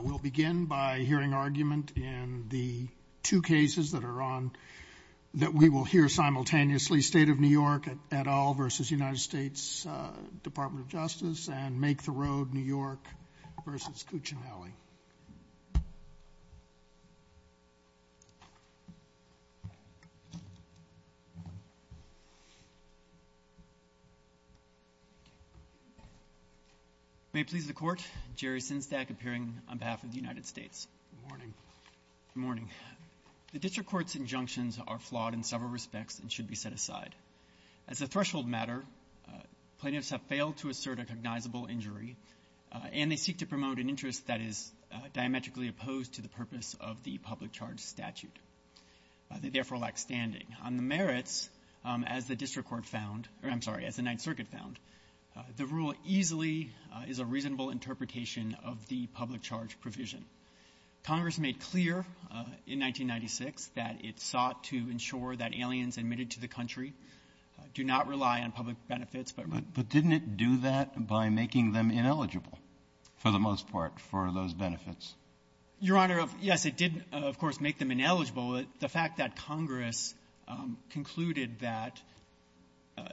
We'll begin by hearing argument in the two cases that we will hear simultaneously, State of New York et al. v. United States Department of Justice and Make the Road New York v. Cuccinelli. May it please the Court, Jerry Synstad, appearing on behalf of the United States. Good morning. Good morning. The District Court's injunctions are flawed in several respects and should be set aside. As a threshold matter, plaintiffs have failed to assert a recognizable injury, and they seek to promote an interest that is diametrically opposed to the purpose of the public charge statute. They therefore lack standing. On the merits, as the District Court found – or I'm sorry, as the Ninth Circuit found, the rule easily is a reasonable interpretation of the public charge provision. Congress made clear in 1996 that it sought to ensure that aliens admitted to the country do not rely on public benefits. But didn't it do that by making them ineligible, for the most part, for those benefits? Your Honor, yes, it did, of course, make them ineligible. The fact that Congress concluded that,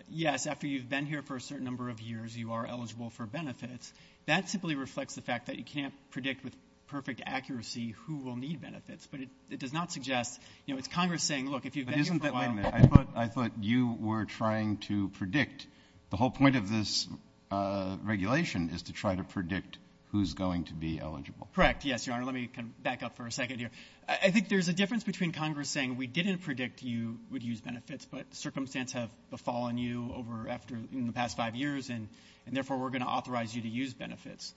yes, after you've been here for a certain number of years, you are eligible for benefits, that simply reflects the fact that you can't predict with perfect accuracy who will need benefits. But it does not suggest – you know, it's Congress saying, look, if you've been here for – I thought you were trying to predict. The whole point of this regulation is to try to predict who's going to be eligible. Correct, yes, Your Honor. Let me back up for a second here. I think there's a difference between Congress saying we didn't predict you would use benefits, but circumstances have befallen you over – in the past five years, and therefore we're going to authorize you to use benefits.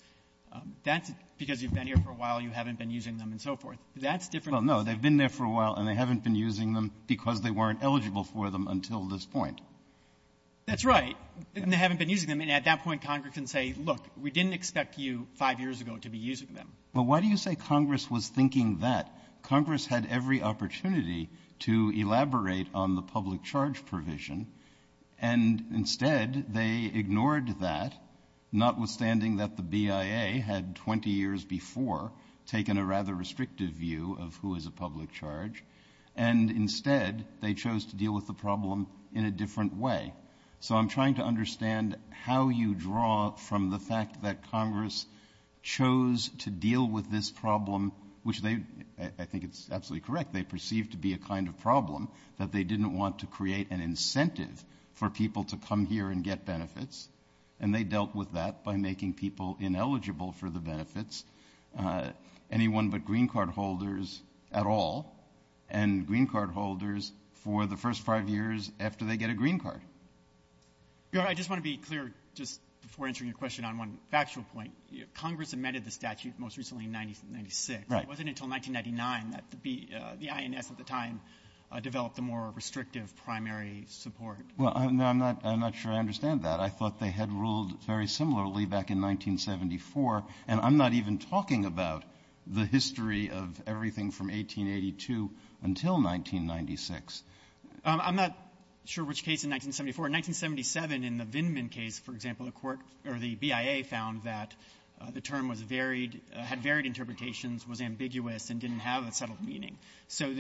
That's because you've been here for a while, you haven't been using them, and so forth. Well, no, they've been there for a while and they haven't been using them because they weren't eligible for them until this point. That's right. And they haven't been using them, and at that point Congress can say, look, we didn't expect you five years ago to be using them. But why do you say Congress was thinking that? Congress had every opportunity to elaborate on the public charge provision, and instead they ignored that, notwithstanding that the BIA had 20 years before taken a rather restrictive view of who is a public charge, and instead they chose to deal with the problem in a different way. So I'm trying to understand how you draw from the fact that Congress chose to deal with this problem, which they – I think it's absolutely correct – they perceived to be a kind of problem, that they didn't want to create an incentive for people to come here and get benefits, and they dealt with that by making people ineligible for the benefits, anyone but green card holders at all, and green card holders for the first five years after they get a green card. I just want to be clear, just before answering your question, on one factual point. Congress amended the statute most recently in 1996. It wasn't until 1999 that the INF at the time developed a more restrictive primary support. Well, I'm not sure I understand that. I thought they had ruled very similarly back in 1974, and I'm not even talking about the history of everything from 1882 until 1996. I'm not sure which case in 1974. In 1977 in the Vindman case, for example, the BIA found that the term had varied interpretations, was ambiguous, and didn't have a subtle meaning. So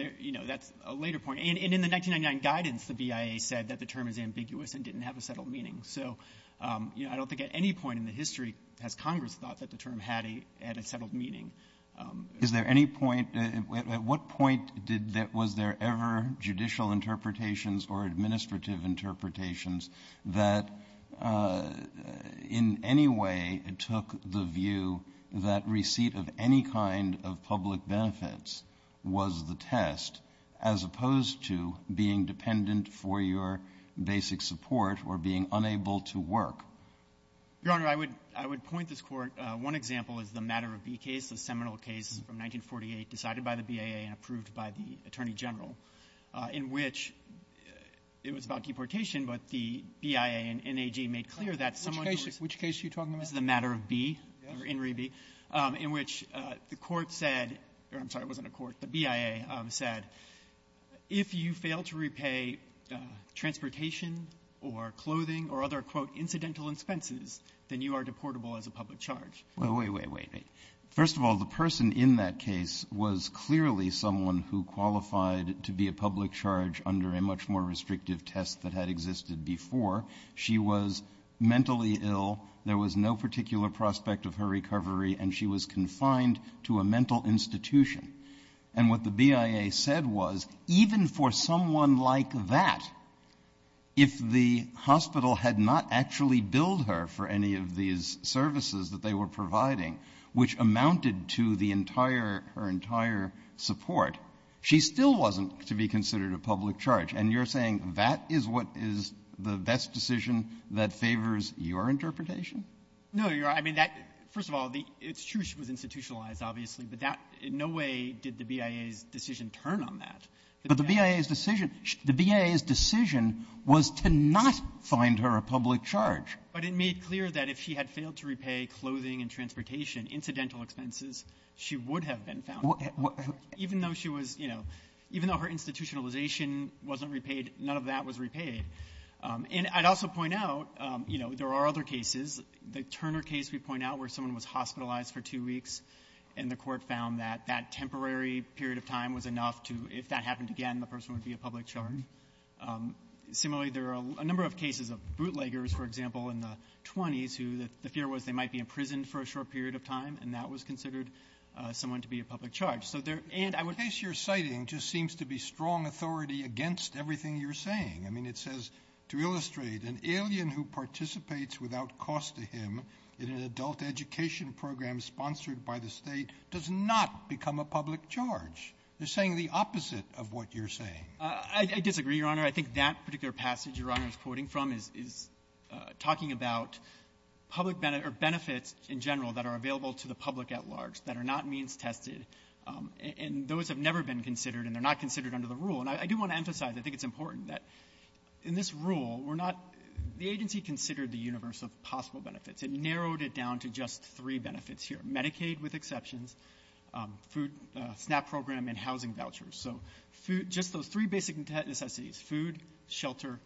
that's a later point. In the 1999 guidance, the BIA said that the term is ambiguous and didn't have a subtle meaning. So I don't think at any point in the history has Congress thought that the term had a subtle meaning. At what point was there ever judicial interpretations or administrative interpretations that in any way took the view that receipt of any kind of public benefits was the test, as opposed to being dependent for your basic support or being unable to work? Your Honor, I would point this court. One example is the Matter of B case, a seminal case from 1948, decided by the BIA and approved by the Attorney General, in which it was about deportation, but the BIA and NAG made clear that someone— Which case are you talking about? The Matter of B, or In Re B, in which the court said—I'm sorry, it wasn't a court. The BIA said, if you fail to repay transportation or clothing or other, quote, incidental expenses, then you are deportable as a public charge. Wait, wait, wait. First of all, the person in that case was clearly someone who qualified to be a public charge under a much more restrictive test that had existed before. She was mentally ill. There was no particular prospect of her recovery, and she was confined to a mental institution. And what the BIA said was, even for someone like that, if the hospital had not actually billed her for any of these services that they were providing, which amounted to her entire support, she still wasn't to be considered a public charge. And you're saying that is what is the best decision that favors your interpretation? No, I mean, first of all, it's true she was institutionalized, obviously, but in no way did the BIA's decision turn on that. But the BIA's decision was to not find her a public charge. But it made clear that if she had failed to repay clothing and transportation, incidental expenses, she would have been found, even though her institutionalization wasn't repaid, none of that was repaid. And I'd also point out there are other cases. The Turner case we point out where someone was hospitalized for two weeks and the court found that that temporary period of time was enough to, if that happened again, the person would be a public charge. Similarly, there are a number of cases of bootleggers, for example, in the 20s, who the fear was they might be imprisoned for a short period of time, and that was considered someone to be a public charge. And I would face your citing just seems to be strong authority against everything you're saying. I mean, it says, to illustrate, an alien who participates without cost to him in an adult education program sponsored by the state does not become a public charge. You're saying the opposite of what you're saying. I disagree, Your Honor. I think that particular passage Your Honor is quoting from is talking about benefits in general that are available to the public at large that are not means tested, and those have never been considered, and they're not considered under the rule. And I do want to emphasize, I think it's important, that in this rule, the agency considered the universe of possible benefits and narrowed it down to just three benefits here, Medicaid with exceptions, food SNAP program, and housing vouchers. So just those three basic necessities, food, shelter,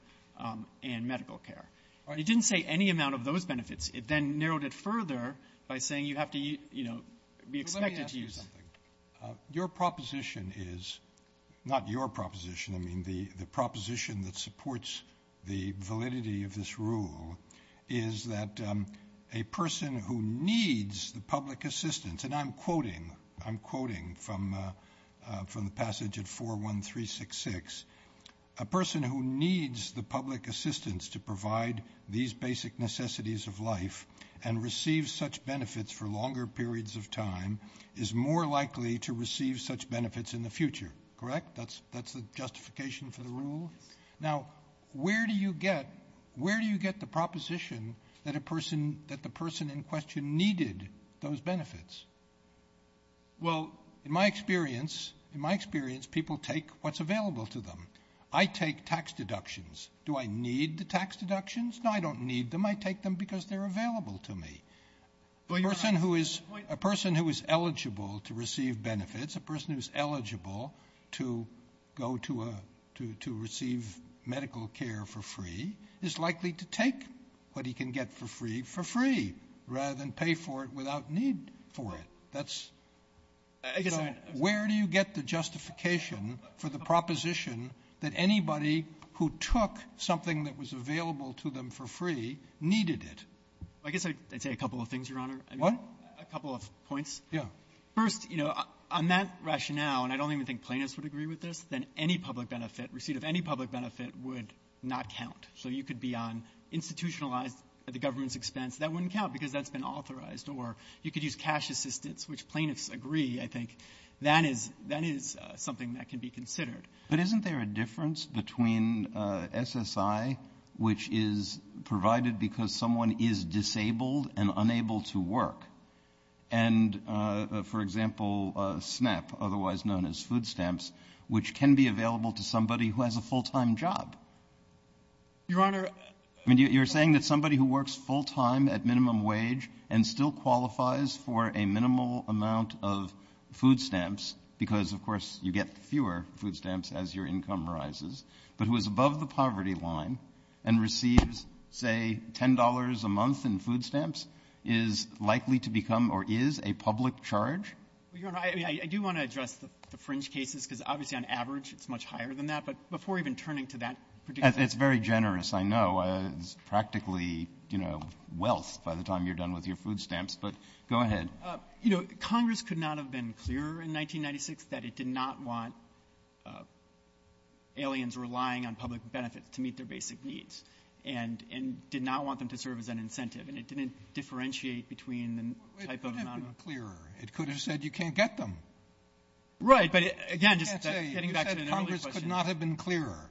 and medical care. It didn't say any amount of those benefits. It then narrowed it further by saying you have to be expected to use them. Let me ask you something. Your proposition is, not your proposition, I mean, the proposition that supports the validity of this rule is that a person who needs the public assistance, and I'm quoting from the passage at 41366, a person who needs the public assistance to provide these basic necessities of life and receives such benefits for longer periods of time is more likely to receive such benefits in the future, correct? That's the justification for the rule? Now, where do you get the proposition that the person in question needed those benefits? Well, in my experience, people take what's available to them. I take tax deductions. Do I need the tax deductions? No, I don't need them. I take them because they're available to me. A person who is eligible to receive benefits, a person who is eligible to receive medical care for free is likely to take what he can get for free for free, rather than pay for it without need for it. Where do you get the justification for the proposition that anybody who took something that was available to them for free needed it? I guess I'd say a couple of things, Your Honor. What? A couple of points. Yeah. First, on that rationale, and I don't even think plaintiffs would agree with this, that any public benefit, receipt of any public benefit would not count. So you could be on institutionalized at the government's expense. That wouldn't count because that's been authorized. Or you could use cash assistance, which plaintiffs agree, I think. That is something that can be considered. But isn't there a difference between SSI, which is provided because someone is disabled and unable to work, and, for example, SNAP, otherwise known as food stamps, which can be available to somebody who has a full-time job? Your Honor. You're saying that somebody who works full-time at minimum wage and still qualifies for a minimal amount of food stamps, because, of course, you get fewer food stamps as your income rises, but who is above the poverty line and receives, say, $10 a month in food stamps, is likely to become or is a public charge? Your Honor, I do want to address the fringe cases because obviously on average it's much higher than that. But before even turning to that particular case. It's very generous, I know. It's practically wealth by the time you're done with your food stamps. But go ahead. Congress could not have been clearer in 1996 that it did not want aliens relying on public benefits to meet their basic needs and did not want them to serve as an incentive, and it didn't differentiate between the type of non- It could have been clearer. It could have said you can't get them. Right, but again. Congress could not have been clearer.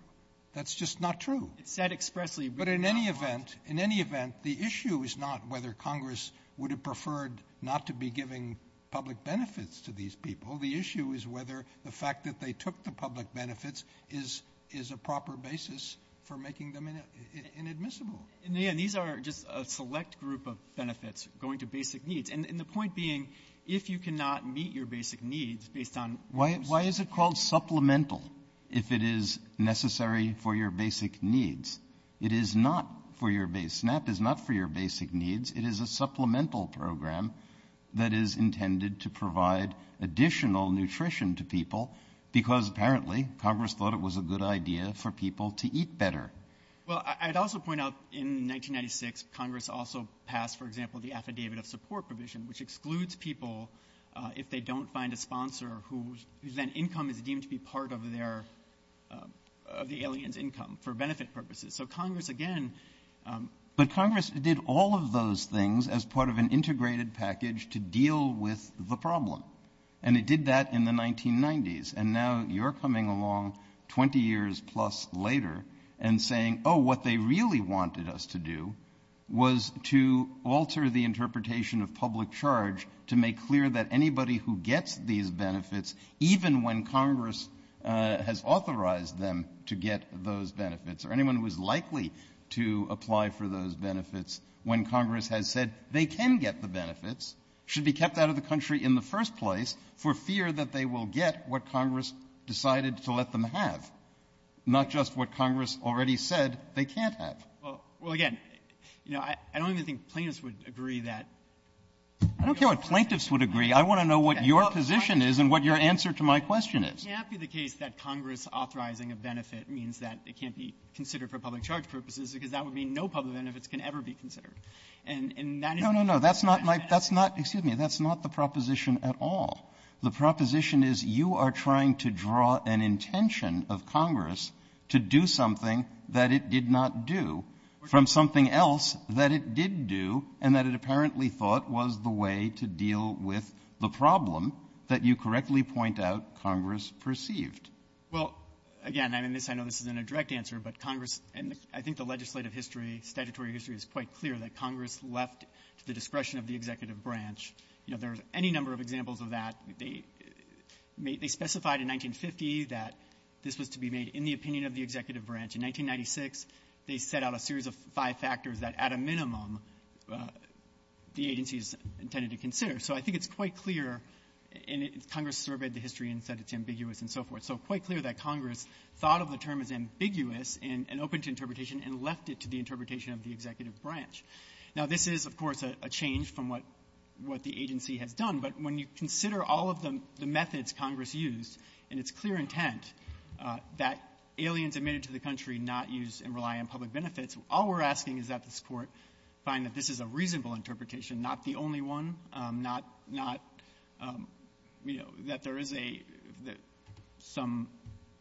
That's just not true. But in any event, the issue is not whether Congress would have preferred not to be giving public benefits to these people. The issue is whether the fact that they took the public benefits is a proper basis for making them inadmissible. These are just a select group of benefits going to basic needs, and the point being if you cannot meet your basic needs based on Why is it called supplemental if it is necessary for your basic needs? It is not for your basic needs. SNAP is not for your basic needs. It is a supplemental program that is intended to provide additional nutrition to people because apparently Congress thought it was a good idea for people to eat better. Well, I'd also point out in 1996 Congress also passed, for example, the Affidavit of Support Provision, which excludes people if they don't find a sponsor whose income is deemed to be part of the alien's income for benefit purposes. But Congress did all of those things as part of an integrated package to deal with the problem, and it did that in the 1990s. And now you're coming along 20 years plus later and saying, oh, what they really wanted us to do was to alter the interpretation of public charge to make clear that anybody who gets these benefits, even when Congress has authorized them to get those benefits or anyone who is likely to apply for those benefits, when Congress has said they can get the benefits, should be kept out of the country in the first place for fear that they will get what Congress decided to let them have, not just what Congress already said they can't have. Well, again, I don't even think plaintiffs would agree that. I don't care what plaintiffs would agree. I want to know what your position is and what your answer to my question is. I'm happy the case that Congress authorizing a benefit means that it can't be considered for public charge purposes because that would mean no public benefits can ever be considered. No, no, no, that's not the proposition at all. The proposition is you are trying to draw an intention of Congress to do something that it did not do from something else that it did do and that it apparently thought was the way to deal with the problem that you correctly point out Congress perceived. Well, again, I know this isn't a direct answer, but Congress, and I think the legislative history, statutory history is quite clear, that Congress left the discretion of the executive branch. There are any number of examples of that. They specified in 1950 that this was to be made in the opinion of the executive branch. In 1996, they set out a series of five factors that, at a minimum, the agency is intended to consider. So I think it's quite clear, and Congress surveyed the history and said it's ambiguous and so forth, so quite clear that Congress thought of the term as ambiguous and open to interpretation and left it to the interpretation of the executive branch. Now, this is, of course, a change from what the agency had done, but when you consider all of the methods Congress used in its clear intent that aliens admitted to the country not use and rely on public benefits, all we're asking is that the court find that this is a reasonable interpretation, not the only one, not, you know, that there is some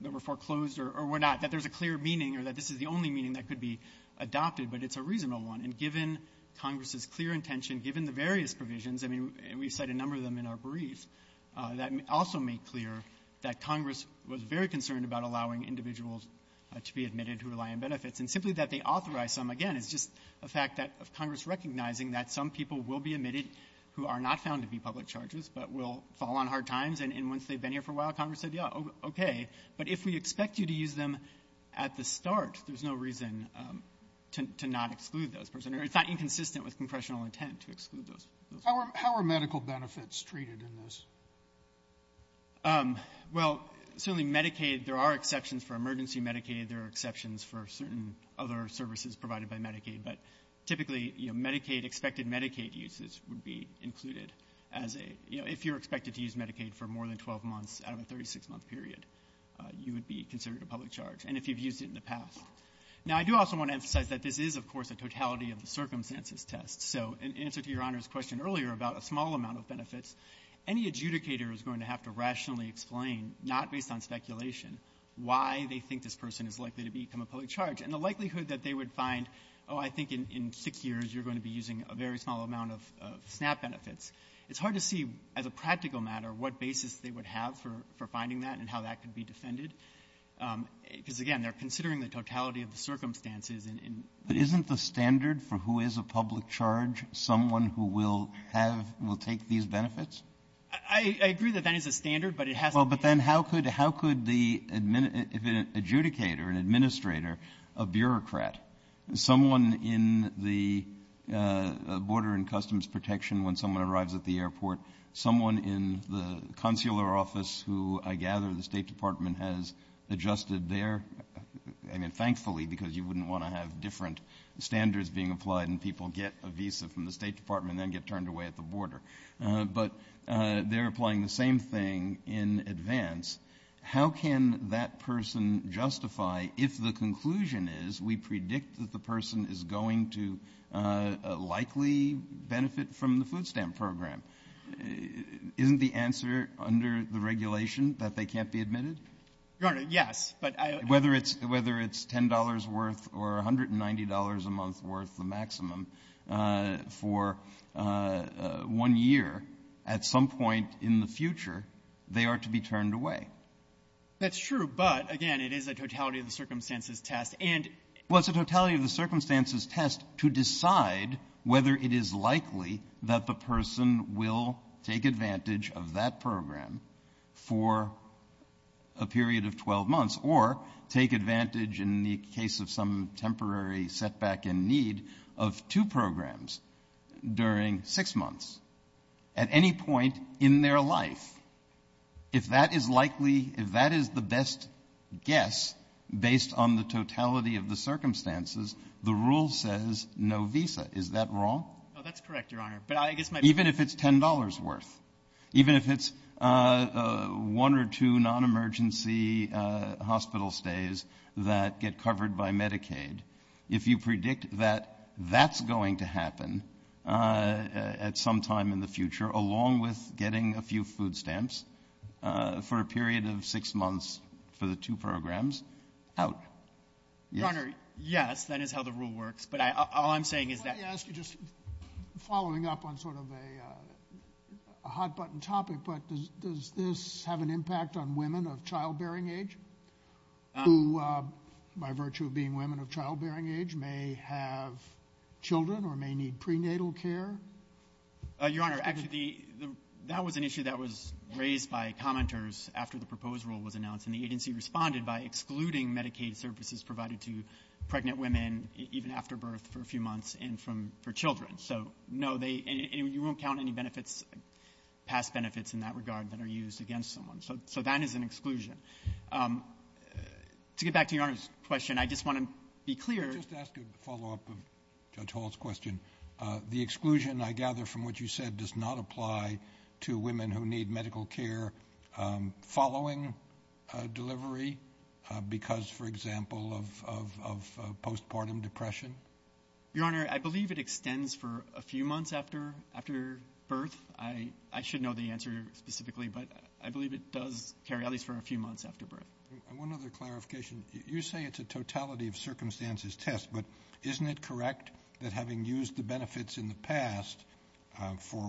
that were foreclosed or were not, that there's a clear meaning or that this is the only meaning that could be adopted, but it's a reasonable one. And given Congress's clear intention, given the various provisions, I mean, we cite a number of them in our briefs, that also make clear that Congress was very concerned about allowing individuals to be admitted to rely on benefits. And simply that they authorized them, again, is just a fact of Congress recognizing that some people will be admitted who are not found to be public charges but will fall on hard times, and once they've been here for a while, Congress said, yeah, okay. But if we expect you to use them at the start, there's no reason to not exclude those. It's not inconsistent with congressional intent to exclude those. How are medical benefits treated in this? Well, certainly Medicaid, there are exceptions for emergency Medicaid. Certainly there are exceptions for certain other services provided by Medicaid, but typically Medicaid, expected Medicaid uses would be included as a, you know, if you're expected to use Medicaid for more than 12 months out of a 36-month period, you would be considered a public charge, and if you've used it in the past. Now, I do also want to emphasize that this is, of course, a totality of the circumstances test. So in answer to Your Honor's question earlier about a small amount of benefits, any adjudicator is going to have to rationally explain, not based on speculation, why they think this person is likely to become a public charge and the likelihood that they would find, oh, I think in six years you're going to be using a very small amount of SNAP benefits. It's hard to see as a practical matter what basis they would have for finding that and how that could be defended because, again, they're considering the totality of the circumstances. Isn't the standard for who is a public charge someone who will have and will take these benefits? I agree that that is a standard, but it has to be. Well, but then how could the adjudicator, an administrator, a bureaucrat, someone in the Border and Customs Protection when someone arrives at the airport, someone in the consular office who I gather the State Department has adjusted there, and then thankfully because you wouldn't want to have different standards being applied and people get a visa from the State Department and then get turned away at the border, but they're applying the same thing in advance. How can that person justify if the conclusion is we predict that the person is going to likely benefit from the food stamp program? Isn't the answer under the regulation that they can't be admitted? Your Honor, yes. Whether it's $10 worth or $190 a month worth, the maximum, for one year, at some point in the future they are to be turned away. That's true, but, again, it is a totality of the circumstances test. Well, it's a totality of the circumstances test to decide whether it is likely that the person will take advantage of that program for a period of 12 months or take advantage in the case of some temporary setback in need of two programs during six months at any point in their life. If that is likely, if that is the best guess based on the totality of the circumstances, the rule says no visa. Is that wrong? That's correct, Your Honor. Even if it's $10 worth, even if it's one or two non-emergency hospital stays that get covered by Medicaid, if you predict that that's going to happen at some time in the future, along with getting a few food stamps for a period of six months for the two programs, out. Your Honor, yes, that is how the rule works, but all I'm saying is that I asked you just following up on sort of a hot-button topic, but does this have an impact on women of childbearing age who, by virtue of being women of childbearing age, may have children or may need prenatal care? Your Honor, that was an issue that was raised by commenters after the proposed rule was announced, and the agency responded by excluding Medicaid services provided to pregnant women even after birth for a few months and for children. So, no, you won't count any benefits, past benefits in that regard, that are used against someone. So that is an exclusion. To get back to Your Honor's question, I just want to be clear. Just ask a follow-up of Judge Hall's question. The exclusion, I gather from what you said, does not apply to women who need medical care following delivery because, for example, of postpartum depression? Your Honor, I believe it extends for a few months after birth. I should know the answer specifically, but I believe it does carry at least for a few months after birth. One other clarification. You say it's a totality-of-circumstances test, but isn't it correct that having used the benefits in the past for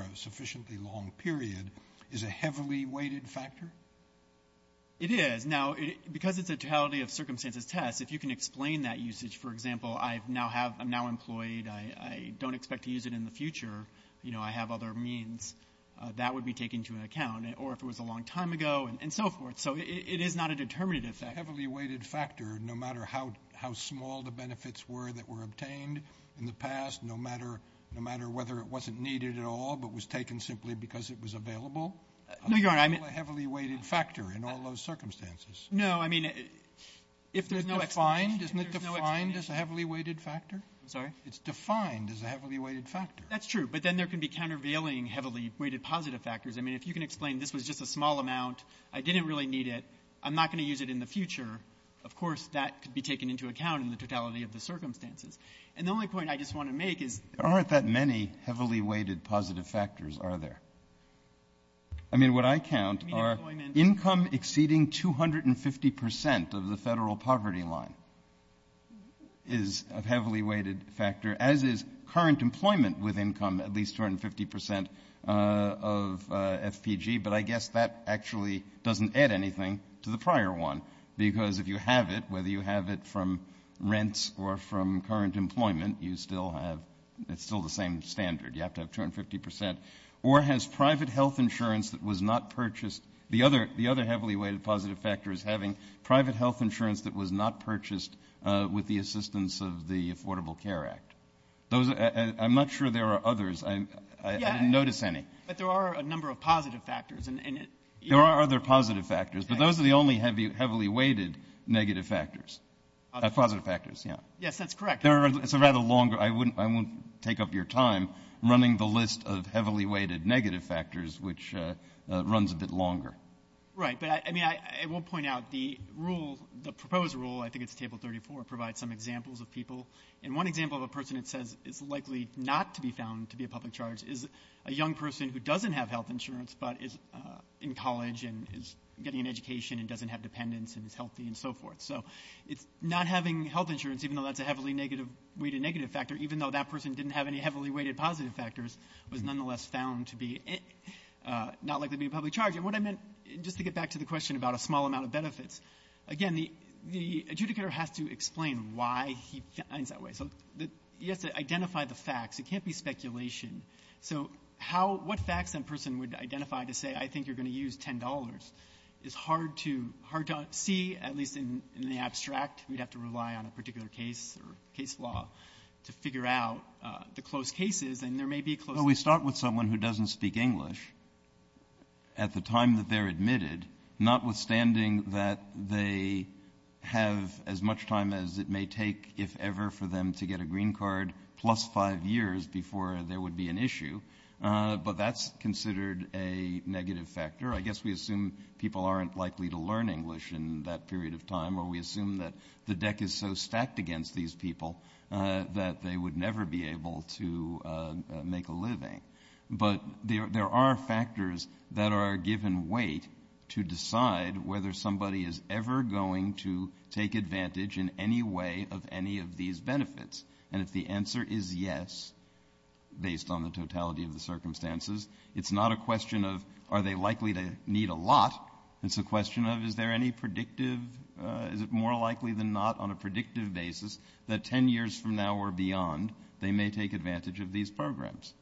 a sufficiently long period is a heavily weighted factor? It is. Now, because it's a totality-of-circumstances test, if you can explain that usage, for example, I'm now employed, I don't expect to use it in the future, you know, I have other means, that would be taken into account, or if it was a long time ago and so forth. So it is not a determinative factor. It's a heavily weighted factor no matter how small the benefits were that were obtained in the past, no matter whether it wasn't needed at all but was taken simply because it was available. No, Your Honor, I mean- It's still a heavily weighted factor in all those circumstances. No, I mean- If it's defined, isn't it defined as a heavily weighted factor? Sorry? It's defined as a heavily weighted factor. That's true, but then there can be countervailing heavily weighted positive factors. I mean, if you can explain this was just a small amount, I didn't really need it, I'm not going to use it in the future, of course that could be taken into account in the totality of the circumstances. And the only point I just want to make is- There aren't that many heavily weighted positive factors, are there? I mean, what I count are income exceeding 250 percent of the federal poverty line is a heavily weighted factor, as is current employment with income at least 250 percent of FPG, but I guess that actually doesn't add anything to the prior one because if you have it, whether you have it from rents or from current employment, it's still the same standard. You have to have 250 percent. Or has private health insurance that was not purchased- I'm not sure there are others. I didn't notice any. But there are a number of positive factors. There are other positive factors, but those are the only heavily weighted negative factors. Positive factors, yeah. Yes, that's correct. It's a rather long- I won't take up your time running the list of heavily weighted negative factors, which runs a bit longer. Right, but I mean, I will point out the rule, the proposed rule, I think it's table 34, provides some examples of people. And one example of a person that says it's likely not to be found to be a public charge is a young person who doesn't have health insurance but is in college and is getting an education and doesn't have dependents and is healthy and so forth. So not having health insurance, even though that's a heavily weighted negative factor, even though that person didn't have any heavily weighted positive factors, was nonetheless found to be not likely to be a public charge. And what I meant, just to get back to the question about a small amount of benefits, again, the adjudicator has to explain why he finds that way. So you have to identify the facts. It can't be speculation. So what facts a person would identify to say, I think you're going to use $10? It's hard to see, at least in the abstract. We'd have to rely on a particular case or case law to figure out the close cases, and there may be close cases. Well, we start with someone who doesn't speak English. At the time that they're admitted, notwithstanding that they have as much time as it may take, if ever, for them to get a green card plus five years before there would be an issue, but that's considered a negative factor. I guess we assume people aren't likely to learn English in that period of time, or we assume that the deck is so stacked against these people that they would never be able to make a living. But there are factors that are given weight to decide whether somebody is ever going to take advantage in any way of any of these benefits. And if the answer is yes, based on the totality of the circumstances, it's not a question of are they likely to need a lot. It's a question of is there any predictive, is it more likely than not on a predictive basis, that 10 years from now or beyond they may take advantage of these programs.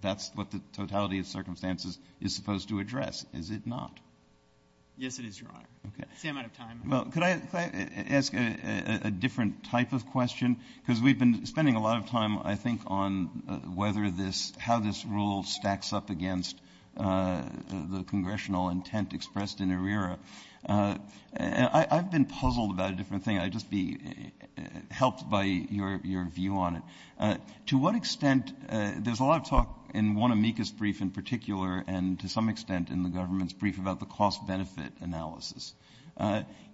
That's what the totality of circumstances is supposed to address. Is it not? Yes, it is, Your Honor. I'm out of time. Well, could I ask a different type of question? Because we've been spending a lot of time, I think, on how this rule stacks up against the congressional intent expressed in ARERA. I've been puzzled about a different thing. I'd just be helped by your view on it. To what extent, there's a lot of talk in one amicus brief in particular and to some extent in the government's brief about the cost-benefit analysis.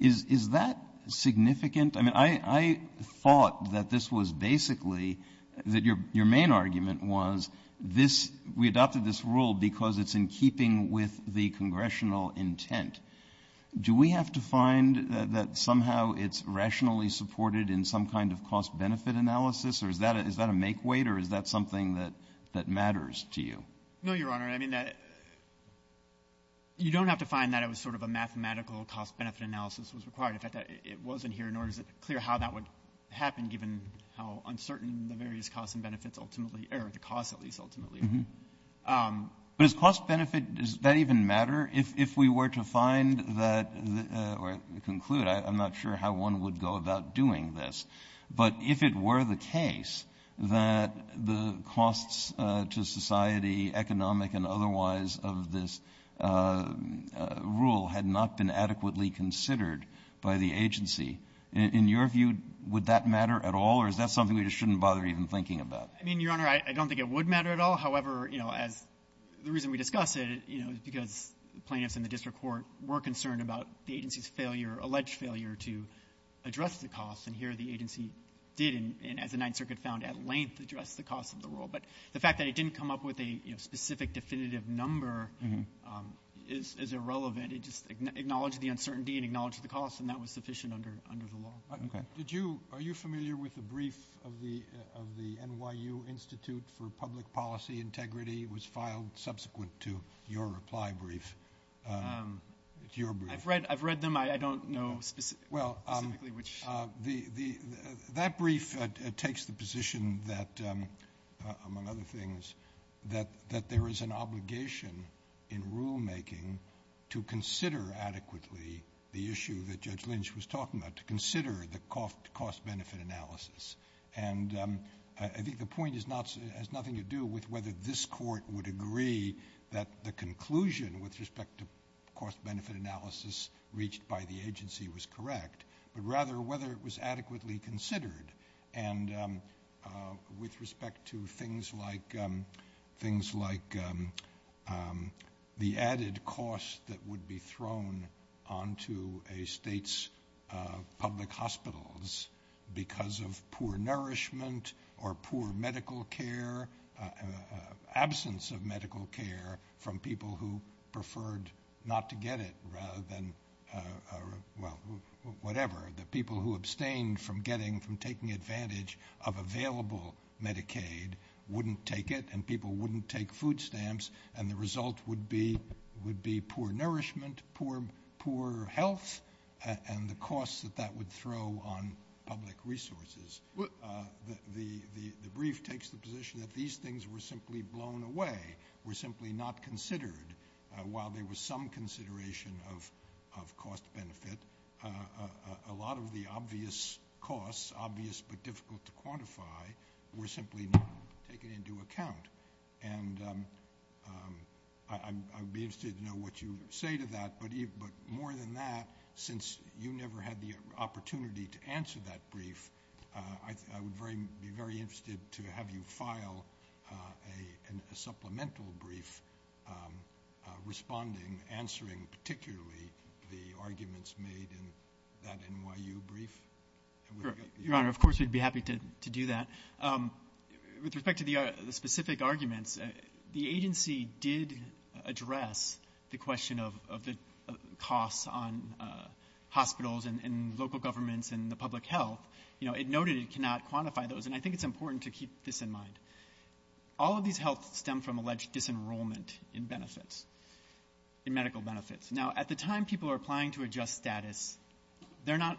Is that significant? I mean, I thought that this was basically, that your main argument was this, we adopted this rule because it's in keeping with the congressional intent. Do we have to find that somehow it's rationally supported in some kind of cost-benefit analysis or is that a make-weight or is that something that matters to you? No, Your Honor. I mean, you don't have to find that it was sort of a mathematical cost-benefit analysis was required. In fact, it wasn't here nor is it clear how that would happen given how uncertain the various costs and benefits ultimately are, the costs, at least, ultimately are. But is cost-benefit, does that even matter? If we were to find that or conclude, I'm not sure how one would go about doing this. But if it were the case that the costs to society, economic and otherwise, of this rule had not been adequately considered by the agency, in your view would that matter at all or is that something we just shouldn't bother even thinking about? I mean, Your Honor, I don't think it would matter at all. However, the reason we discussed it is because plaintiffs in the district court were concerned about the agency's alleged failure to address the costs and here the agency did, as the Ninth Circuit found, at length address the cost of the rule. But the fact that it didn't come up with a specific definitive number is irrelevant. It just acknowledged the uncertainty and acknowledged the cost and that was sufficient under the law. Are you familiar with the brief of the NYU Institute for Public Policy Integrity? It was filed subsequent to your reply brief. I've read them. I don't know specifically which. That brief takes the position that, among other things, that there is an obligation in rulemaking to consider adequately the issue that Judge Lynch was talking about, to consider the cost-benefit analysis. And I think the point has nothing to do with whether this court would agree that the conclusion with respect to cost-benefit analysis reached by the agency was correct, but rather whether it was adequately considered. And with respect to things like the added cost that would be thrown onto a state's public hospitals because of poor nourishment or poor medical care, absence of medical care, from people who preferred not to get it rather than whatever. The people who abstained from taking advantage of available Medicaid wouldn't take it and people wouldn't take food stamps and the result would be poor nourishment, poor health, and the cost that that would throw on public resources. The brief takes the position that these things were simply blown away, were simply not considered. While there was some consideration of cost-benefit, a lot of the obvious costs, obvious but difficult to quantify, were simply not taken into account. And I'd be interested to know what you would say to that, but more than that, since you never had the opportunity to answer that brief, I would be very interested to have you file a supplemental brief responding, answering particularly the arguments made in that NYU brief. Your Honor, of course we'd be happy to do that. With respect to the specific arguments, the agency did address the question of the costs on hospitals and local governments and the public health. It noted it cannot quantify those, and I think it's important to keep this in mind. All of these helps stem from alleged disenrollment in medical benefits. Now, at the time people are applying to adjust status, they're not,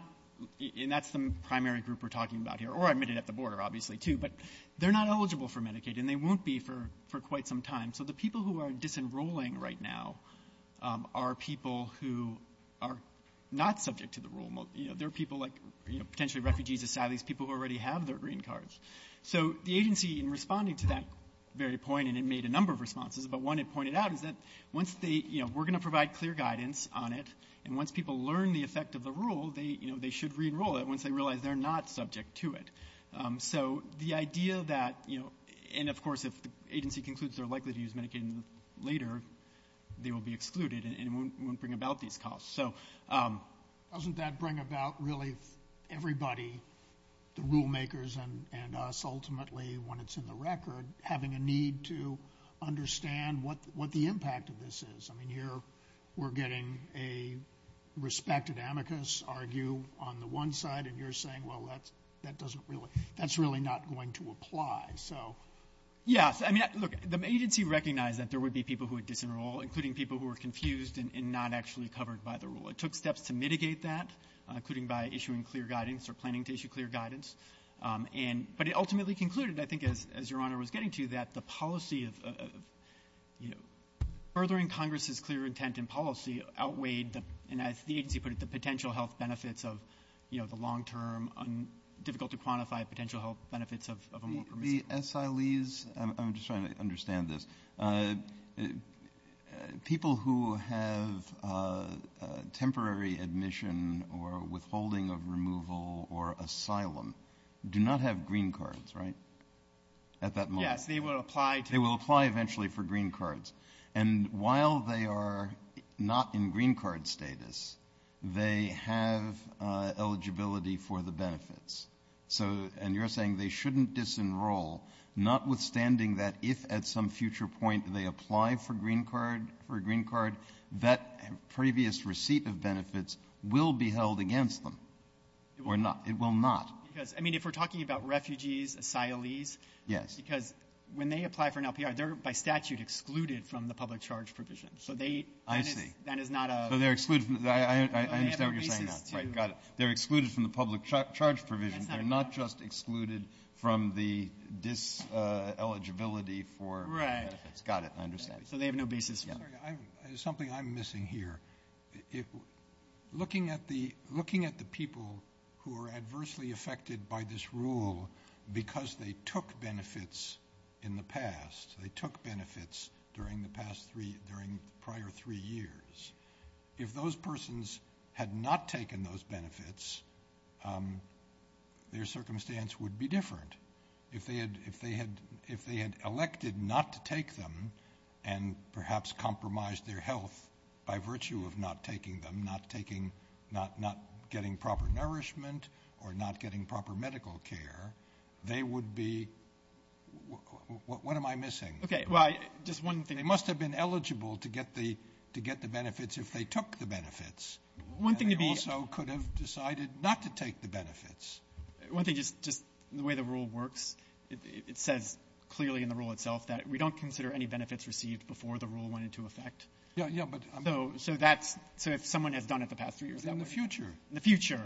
and that's the primary group we're talking about here, or admitted at the border obviously too, but they're not eligible for Medicaid and they won't be for quite some time. So the people who are disenrolling right now are people who are not subject to the rule. They're people like potentially refugees, asylees, people who already have their green cards. So the agency, in responding to that very point, and it made a number of responses, but one it pointed out is that once they, you know, we're going to provide clear guidance on it, and once people learn the effect of the rule, they should re-enroll it once they realize they're not subject to it. So the idea that, you know, and of course if the agency concludes they're likely to use Medicaid later, they will be excluded and won't bring about these costs. So doesn't that bring about really everybody, the rule makers and us ultimately when it's in the record, having a need to understand what the impact of this is? I mean, here we're getting a respected amicus argue on the one side, and you're saying, well, that's really not going to apply. Yes, I mean, look, the agency recognized that there would be people who would disenroll, including people who were confused and not actually covered by the rule. It took steps to mitigate that, including by issuing clear guidance or planning to issue clear guidance. But it ultimately concluded, I think as Your Honor was getting to, that the policy of, you know, furthering Congress's clear intent and policy outweighed, and as the agency put it, the potential health benefits of, you know, the long-term difficult-to-quantify potential health benefits of removal. The SILEs, I'm just trying to understand this, people who have temporary admission or withholding of removal or asylum do not have green cards, right, at that moment? Yes, they will apply. They will apply eventually for green cards. And while they are not in green card status, they have eligibility for the benefits. And you're saying they shouldn't disenroll, notwithstanding that if at some future point they apply for a green card, that previous receipt of benefits will be held against them or not. It will not. I mean, if we're talking about refugees, SILEs, because when they apply for an LPR, they're by statute excluded from the public charge provision. I see. So they're excluded from the public charge provision. They're not just excluded from the diseligibility for benefits. Right. Got it. I understand. So they have no basis. There's something I'm missing here. Looking at the people who are adversely affected by this rule because they took benefits in the past, they took benefits during the prior three years, if those persons had not taken those benefits, their circumstance would be different. If they had elected not to take them and perhaps compromised their health by virtue of not taking them, not getting proper nourishment or not getting proper medical care, they would be ‑‑ what am I missing? Okay, well, just one thing. They must have been eligible to get the benefits if they took the benefits. One thing would be ‑‑ They also could have decided not to take the benefits. One thing, just the way the rule works, it says clearly in the rule itself that we don't consider any benefits received before the rule went into effect. Yeah, but ‑‑ So if someone has done it the past three years. In the future. In the future,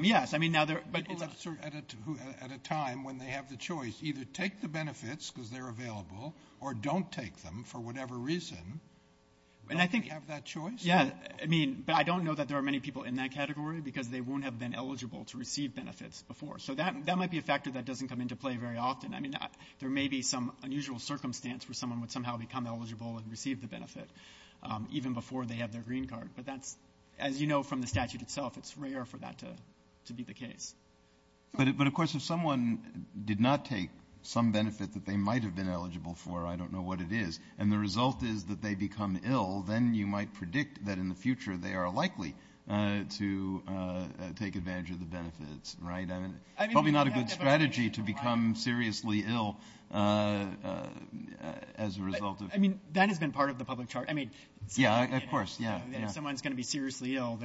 yes. People at a time when they have the choice either take the benefits because they're available or don't take them for whatever reason, they have that choice? Yeah, but I don't know that there are many people in that category because they won't have been eligible to receive benefits before. So that might be a factor that doesn't come into play very often. I mean, there may be some unusual circumstance where someone would somehow become eligible and receive the benefit, even before they have their green card. But that's, as you know from the statute itself, it's rare for that to be the case. But, of course, if someone did not take some benefit that they might have been eligible for, I don't know what it is, and the result is that they become ill, then you might predict that in the future they are likely to take advantage of the benefits, right? I mean, it's probably not a good strategy to become seriously ill as a result of ‑‑ I mean, that has been part of the public chart. Yeah, of course, yeah. If someone's going to be seriously ill,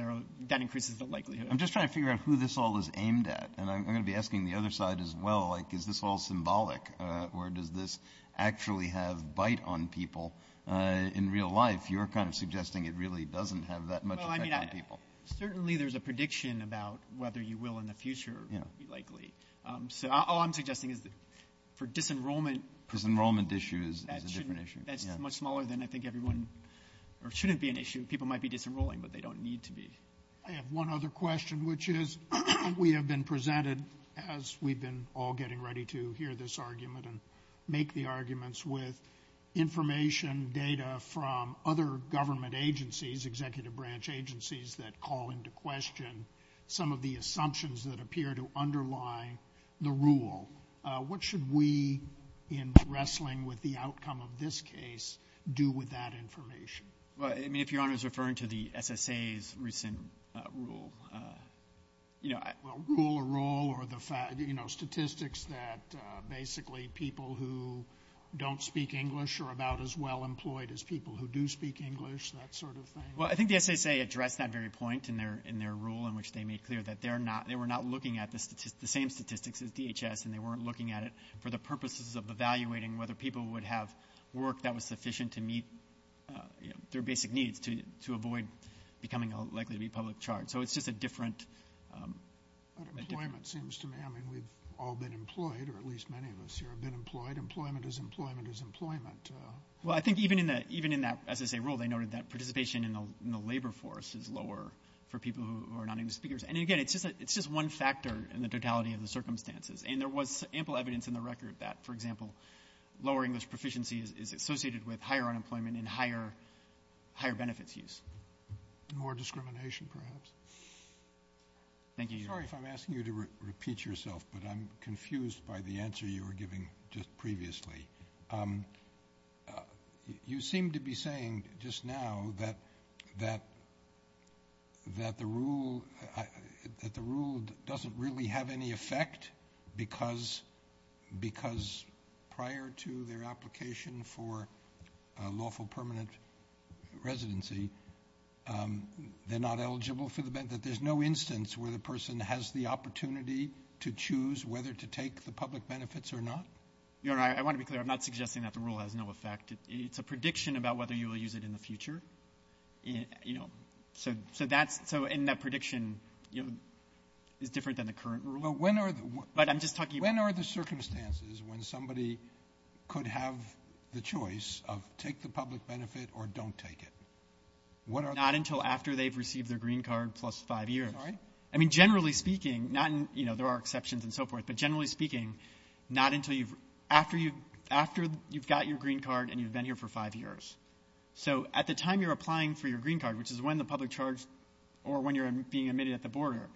that increases the likelihood. I'm just trying to figure out who this all is aimed at, and I'm going to be asking the other side as well, like, is this all symbolic? Or does this actually have bite on people in real life? You're kind of suggesting it really doesn't have that much effect on people. Well, I mean, certainly there's a prediction about whether you will in the future be likely. So all I'm suggesting is for disenrollment ‑‑ Disenrollment issue is a different issue. That's much smaller than I think everyone ‑‑ or shouldn't be an issue. People might be disenrolling, but they don't need to be. I have one other question, which is we have been presented, as we've been all getting ready to hear this argument and make the arguments with information, data from other government agencies, executive branch agencies that call into question some of the assumptions that appear to underlie the rule. What should we, in wrestling with the outcome of this case, do with that information? Well, I mean, if Your Honor is referring to the SSA's recent rule, you know ‑‑ people who don't speak English are about as well employed as people who do speak English, that sort of thing. Well, I think the SSA addressed that very point in their rule in which they made clear that they were not looking at the same statistics as DHS and they weren't looking at it for the purposes of evaluating whether people would have work that was sufficient to meet their basic needs to avoid becoming likely to be public charged. So it's just a different ‑‑ I mean, we've all been employed, or at least many of us here have been employed. Employment is employment is employment. Well, I think even in that SSA rule, they noted that participation in the labor force is lower for people who are not English speakers. And again, it's just one factor in the totality of the circumstances. And there was ample evidence in the record that, for example, lowering English proficiency is associated with higher unemployment and higher benefits use. More discrimination, perhaps. Thank you, Your Honor. I'm sorry if I'm asking you to repeat yourself, but I'm confused by the answer you were giving just previously. You seem to be saying just now that the rule doesn't really have any effect because prior to their application for a lawful permanent residency, they're not eligible for the benefit. There's no instance where the person has the opportunity to choose whether to take the public benefits or not? Your Honor, I want to be clear. I'm not suggesting that the rule has no effect. It's a prediction about whether you will use it in the future. So in that prediction, it's different than the current rule. But when are the circumstances when somebody could have the choice of take the public benefit or don't take it? Not until after they've received their green card plus five years. I mean, generally speaking, there are exceptions and so forth, but generally speaking, not until after you've got your green card and you've been here for five years. So at the time you're applying for your green card, which is when the public charge or when you're being admitted at the border,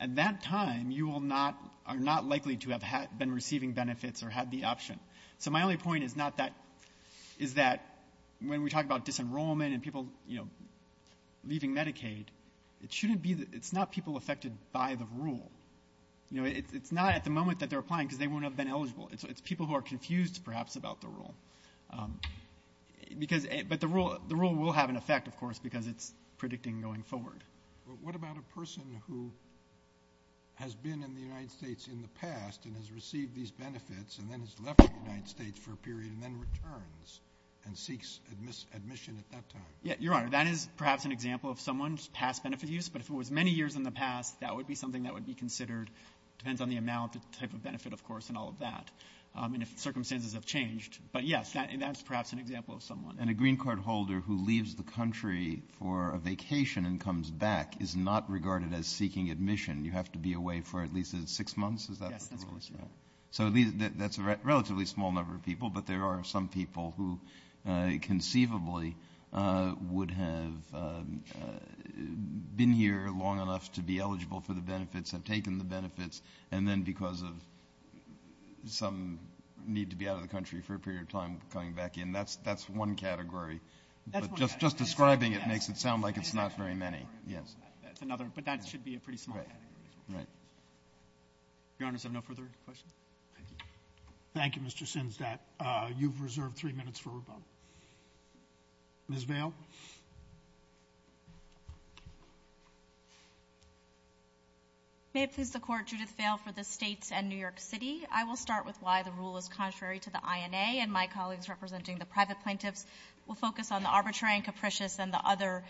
at that time you are not likely to have been receiving benefits or have the option. So my only point is that when we talk about disenrollment and people leaving Medicaid, it's not people affected by the rule. It's not at the moment that they're applying because they won't have been eligible. It's people who are confused, perhaps, about the rule. But the rule will have an effect, of course, because it's predicting going forward. What about a person who has been in the United States in the past and has received these benefits and then has left the United States for a period and then returns and seeks admission at that time? Your Honor, that is perhaps an example of someone's past benefit use, but if it was many years in the past, that would be something that would be considered. It depends on the amount, the type of benefit, of course, and all of that, and if circumstances have changed. But, yes, that's perhaps an example of someone. And a green card holder who leaves the country for a vacation and comes back is not regarded as seeking admission. You have to be away for at least six months. So that's a relatively small number of people, but there are some people who conceivably would have been here long enough to be eligible for the benefits, have taken the benefits, and then because of some need to be out of the country for a period of time, come back in. That's one category. Just describing it makes it sound like it's not very many. But that should be a pretty small category. Your Honor, is there no further questions? Thank you, Mr. Sinzat. You've reserved three minutes for a vote. Ms. Vail? May it please the Court, Judith Vail for the states and New York City. I will start with why the rule is contrary to the INA, and my colleagues representing the private plaintiffs will focus on the arbitrary and capricious and the other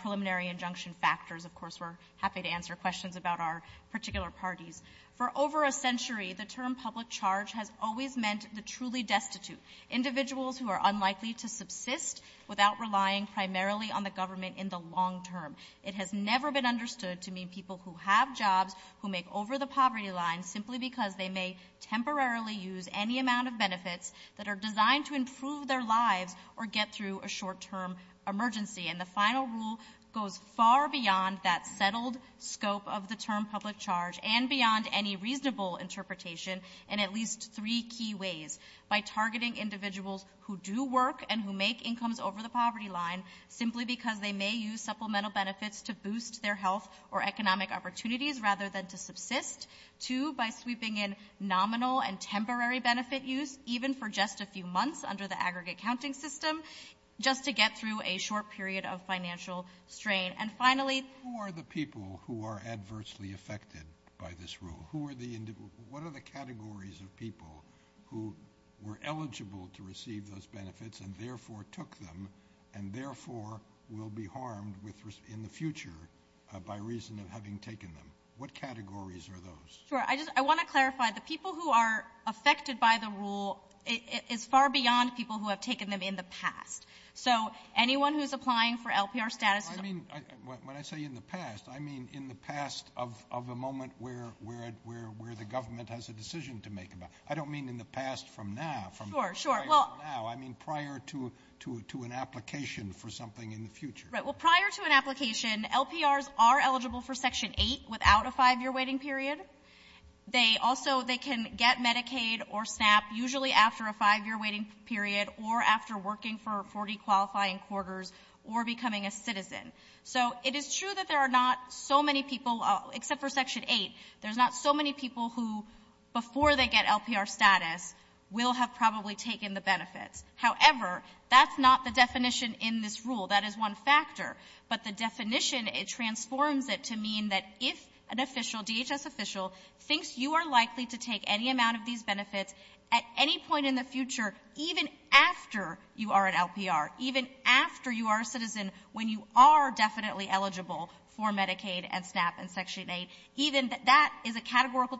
preliminary injunction factors. Of course, we're happy to answer questions about our particular parties. For over a century, the term public charge has always meant the truly destitute, individuals who are unlikely to subsist without relying primarily on the government in the long term. It has never been understood to mean people who have jobs, who make over the poverty line simply because they may temporarily use any amount of benefits that are designed to improve their lives or get through a short-term emergency. And the final rule goes far beyond that settled scope of the term public charge and beyond any reasonable interpretation in at least three key ways. By targeting individuals who do work and who make incomes over the poverty line simply because they may use supplemental benefits to boost their health or economic opportunities rather than to subsist. Two, by sweeping in nominal and temporary benefit use, even for just a few months under the aggregate counting system, just to get through a short period of financial strain. And finally, Who are the people who are adversely affected by this rule? What are the categories of people who were eligible to receive those benefits and therefore took them and therefore will be harmed in the future by reason of having taken them? What categories are those? I want to clarify, the people who are affected by the rule is far beyond people who have taken them in the past. So anyone who's applying for LPR status When I say in the past, I mean in the past of the moment where the government has a decision to make about it. I don't mean in the past from now. Sure, sure. I mean prior to an application for something in the future. Right. Well, prior to an application, LPRs are eligible for Section 8 without a five-year waiting period. They also, they can get Medicaid or SNAP usually after a five-year waiting period or after working for 40 qualifying quarters or becoming a citizen. So it is true that there are not so many people, except for Section 8, there's not so many people who, before they get LPR status, will have probably taken the benefit. However, that's not the definition in this rule. That is one factor. But the definition, it transforms it to mean that if an official, DHS official, thinks you are likely to take any amount of these benefits at any point in the future, even after you are an LPR, even after you are a citizen, when you are definitely eligible for Medicaid and SNAP and Section 8, even that is a categorical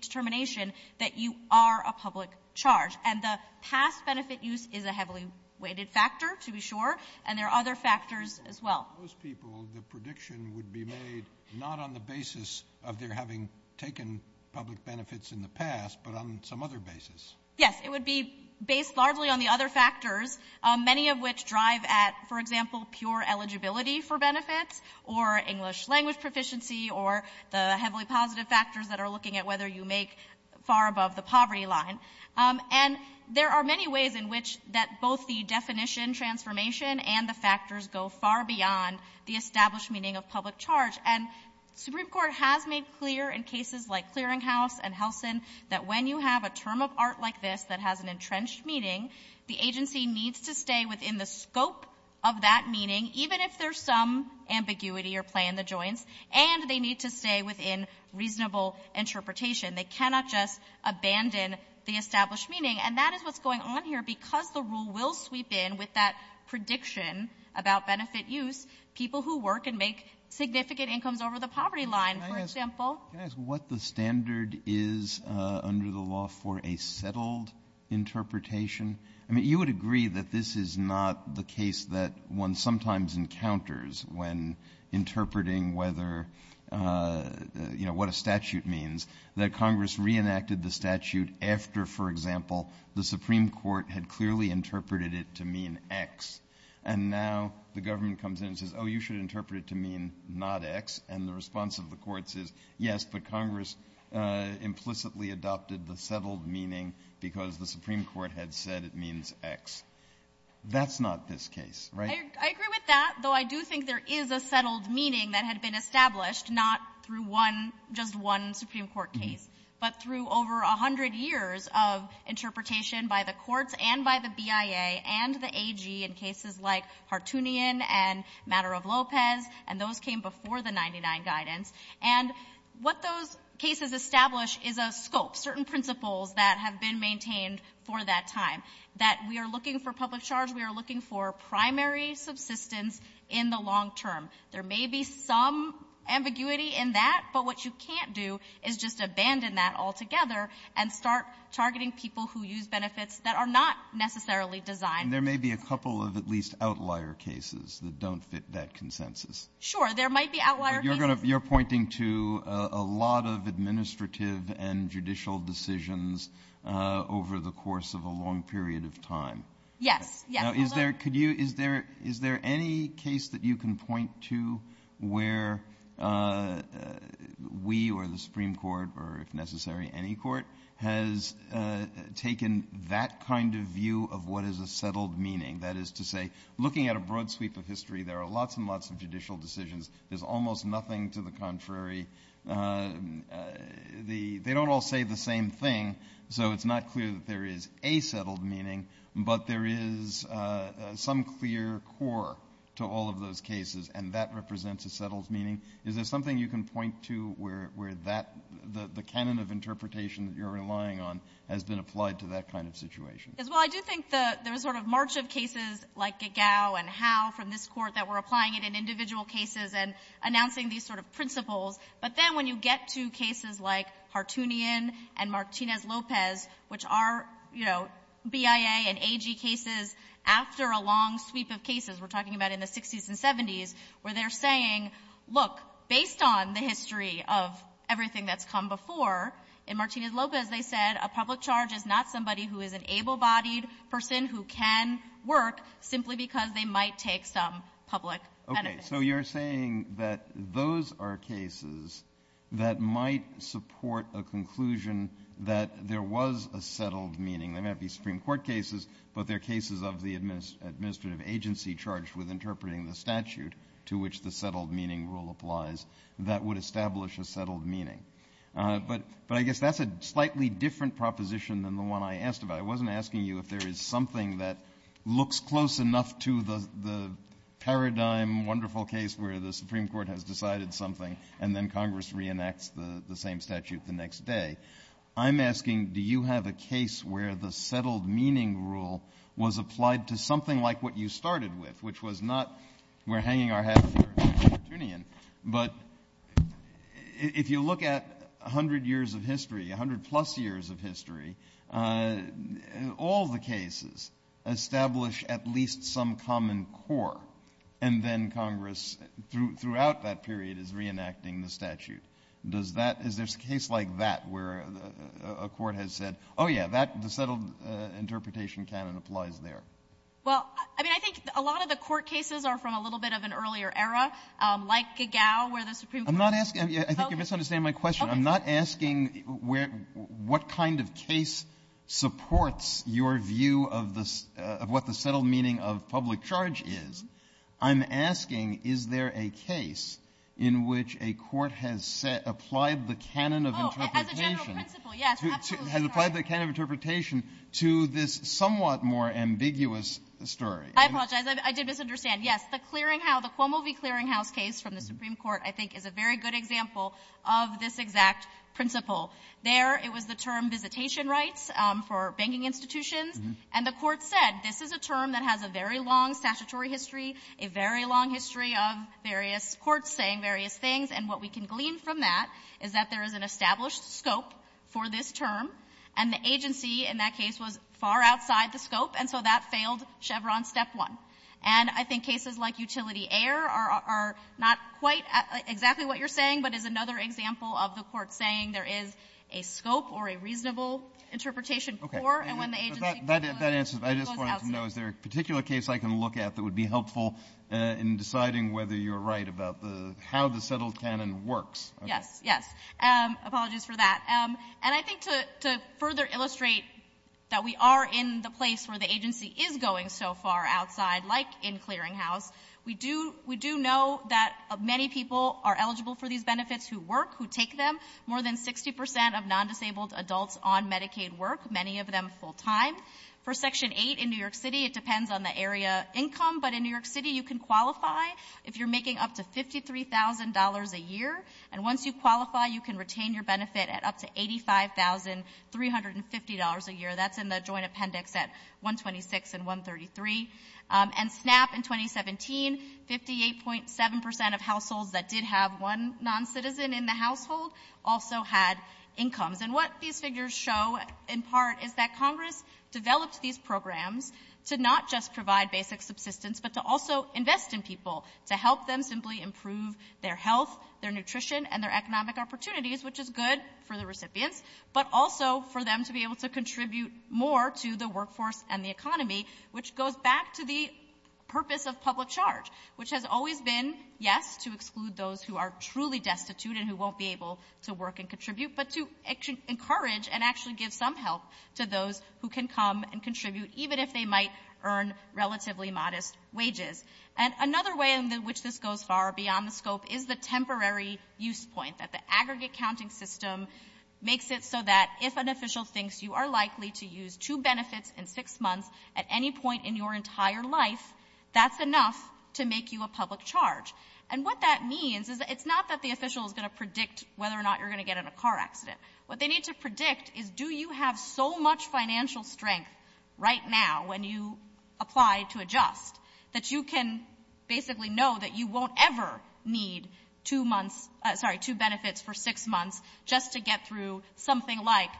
determination that you are a public charge. And the past benefit use is a heavily weighted factor, to be sure, and there are other factors as well. For most people, the prediction would be made not on the basis of their having taken public benefits in the past, but on some other basis. Yes, it would be based largely on the other factors, many of which drive at, for example, pure eligibility for benefits or English language proficiency or the heavily positive factors that are looking at whether you make far above the poverty line. And there are many ways in which both the definition transformation and the factors go far beyond the established meaning of public charge. And the Supreme Court has made clear in cases like Clearinghouse and Helsin that when you have a term of art like this that has an entrenched meaning, the agency needs to stay within the scope of that meaning, even if there is some ambiguity or play in the joints, and they need to stay within reasonable interpretation. They cannot just abandon the established meaning. And that is what's going on here because the rule will sweep in with that prediction about benefit use, people who work and make significant incomes over the poverty line, for example. Can I ask what the standard is under the law for a settled interpretation? I mean, you would agree that this is not the case that one sometimes encounters when interpreting what a statute means, that Congress reenacted the statute after, for example, the Supreme Court had clearly interpreted it to mean X, and now the government comes in and says, oh, you should interpret it to mean not X, and the response of the courts is yes, but Congress implicitly adopted the settled meaning because the Supreme Court had said it means X. That's not this case, right? I agree with that, though I do think there is a settled meaning that had been established, not through just one Supreme Court case, but through over 100 years of interpretation by the courts and by the BIA and the AG in cases like Partoonian and Matter of Lopez, and those came before the 99 guidance. And what those cases establish is a scope, certain principles that have been maintained for that time, that we are looking for public charge, we are looking for primary subsistence in the long term. There may be some ambiguity in that, but what you can't do is just abandon that altogether and start targeting people who use benefits that are not necessarily designed. And there may be a couple of at least outlier cases that don't fit that consensus. Sure, there might be outlier cases. You're pointing to a lot of administrative and judicial decisions over the course of a long period of time. Yes. Is there any case that you can point to where we or the Supreme Court, or if necessary any court, has taken that kind of view of what is a settled meaning? That is to say, looking at a broad sweep of history, there are lots and lots of judicial decisions. There's almost nothing to the contrary. They don't all say the same thing, so it's not clear that there is a settled meaning, but there is some clear core to all of those cases, and that represents a settled meaning. Is there something you can point to where the canon of interpretation that you're relying on has been applied to that kind of situation? Well, I do think there's sort of margin of cases like Gagow and Howe from this court that were applying it in individual cases and announcing these sort of principles. But then when you get to cases like Hartoonian and Martinez-Lopez, which are BIA and AG cases after a long sweep of cases, we're talking about in the 60s and 70s, where they're saying, look, based on the history of everything that's come before, in Martinez-Lopez they said a public charge is not somebody who is an able-bodied person who can work simply because they might take some public credit. Okay, so you're saying that those are cases that might support a conclusion that there was a settled meaning. They might be Supreme Court cases, but they're cases of the administrative agency charged with interpreting the statute to which the settled meaning rule applies that would establish a settled meaning. But I guess that's a slightly different proposition than the one I asked about. I wasn't asking you if there is something that looks close enough to the paradigm, wonderful case where the Supreme Court has decided something and then Congress reenacts the same statute the next day. I'm asking do you have a case where the settled meaning rule was applied to something like what you started with, which was not we're hanging our hats here against Hartoonian, but if you look at 100 years of history, 100-plus years of history, all the cases establish at least some common core, and then Congress throughout that period is reenacting the statute. Is there a case like that where a court has said, oh, yeah, the settled interpretation canon applies there? Well, I think a lot of the court cases are from a little bit of an earlier era, like Gagau where the Supreme Court— I'm not asking—I think you're misunderstanding my question. I'm not asking what kind of case supports your view of what the settled meaning of public charge is. I'm asking is there a case in which a court has applied the canon of interpretation to this somewhat more ambiguous story. I apologize. I did misunderstand. Yes, the Cuomo v. Clearinghouse case from the Supreme Court, I think, is a very good example of this exact principle. There it was the term visitation rights for banking institutions, and the court said this is a term that has a very long statutory history, a very long history of various courts saying various things, and what we can glean from that is that there is an established scope for this term, and the agency in that case was far outside the scope, and so that failed Chevron step one. And I think cases like Utility Air are not quite exactly what you're saying, but is another example of the court saying there is a scope or a reasonable interpretation for, and when the agency— Okay, so that answers—I just wanted to know, is there a particular case I can look at that would be helpful in deciding whether you're right about how the settled canon works? Yes, yes. Apologies for that. And I think to further illustrate that we are in the place where the agency is going so far outside, like in Clearinghouse, we do know that many people are eligible for these benefits who work, who take them. More than 60% of non-disabled adults on Medicaid work, many of them full-time. For Section 8 in New York City, it depends on the area income, but in New York City you can qualify if you're making up to $53,000 a year, and once you qualify you can retain your benefit at up to $85,350 a year. That's in the joint appendix at 126 and 133. And SNAP in 2017, 58.7% of households that did have one non-citizen in the household also had incomes. And what these figures show in part is that Congress developed these programs to not just provide basic subsistence, but to also invest in people, to help them simply improve their health, their nutrition, and their economic opportunities, which is good for the recipients, but also for them to be able to contribute more to the workforce and the economy, which goes back to the purpose of public charge, which has always been, yes, to exclude those who are truly destitute and who won't be able to work and contribute, but to encourage and actually give some help to those who can come and contribute even if they might earn relatively modest wages. And another way in which this goes far beyond the scope is the temporary use point, that the aggregate counting system makes it so that if an official thinks you are likely to use two benefits in six months at any point in your entire life, that's enough to make you a public charge. And what that means is it's not that the official is going to predict whether or not you're going to get in a car accident. What they need to predict is do you have so much financial strength right now when you apply to adjust that you can basically know that you won't ever need two benefits for six months just to get through something like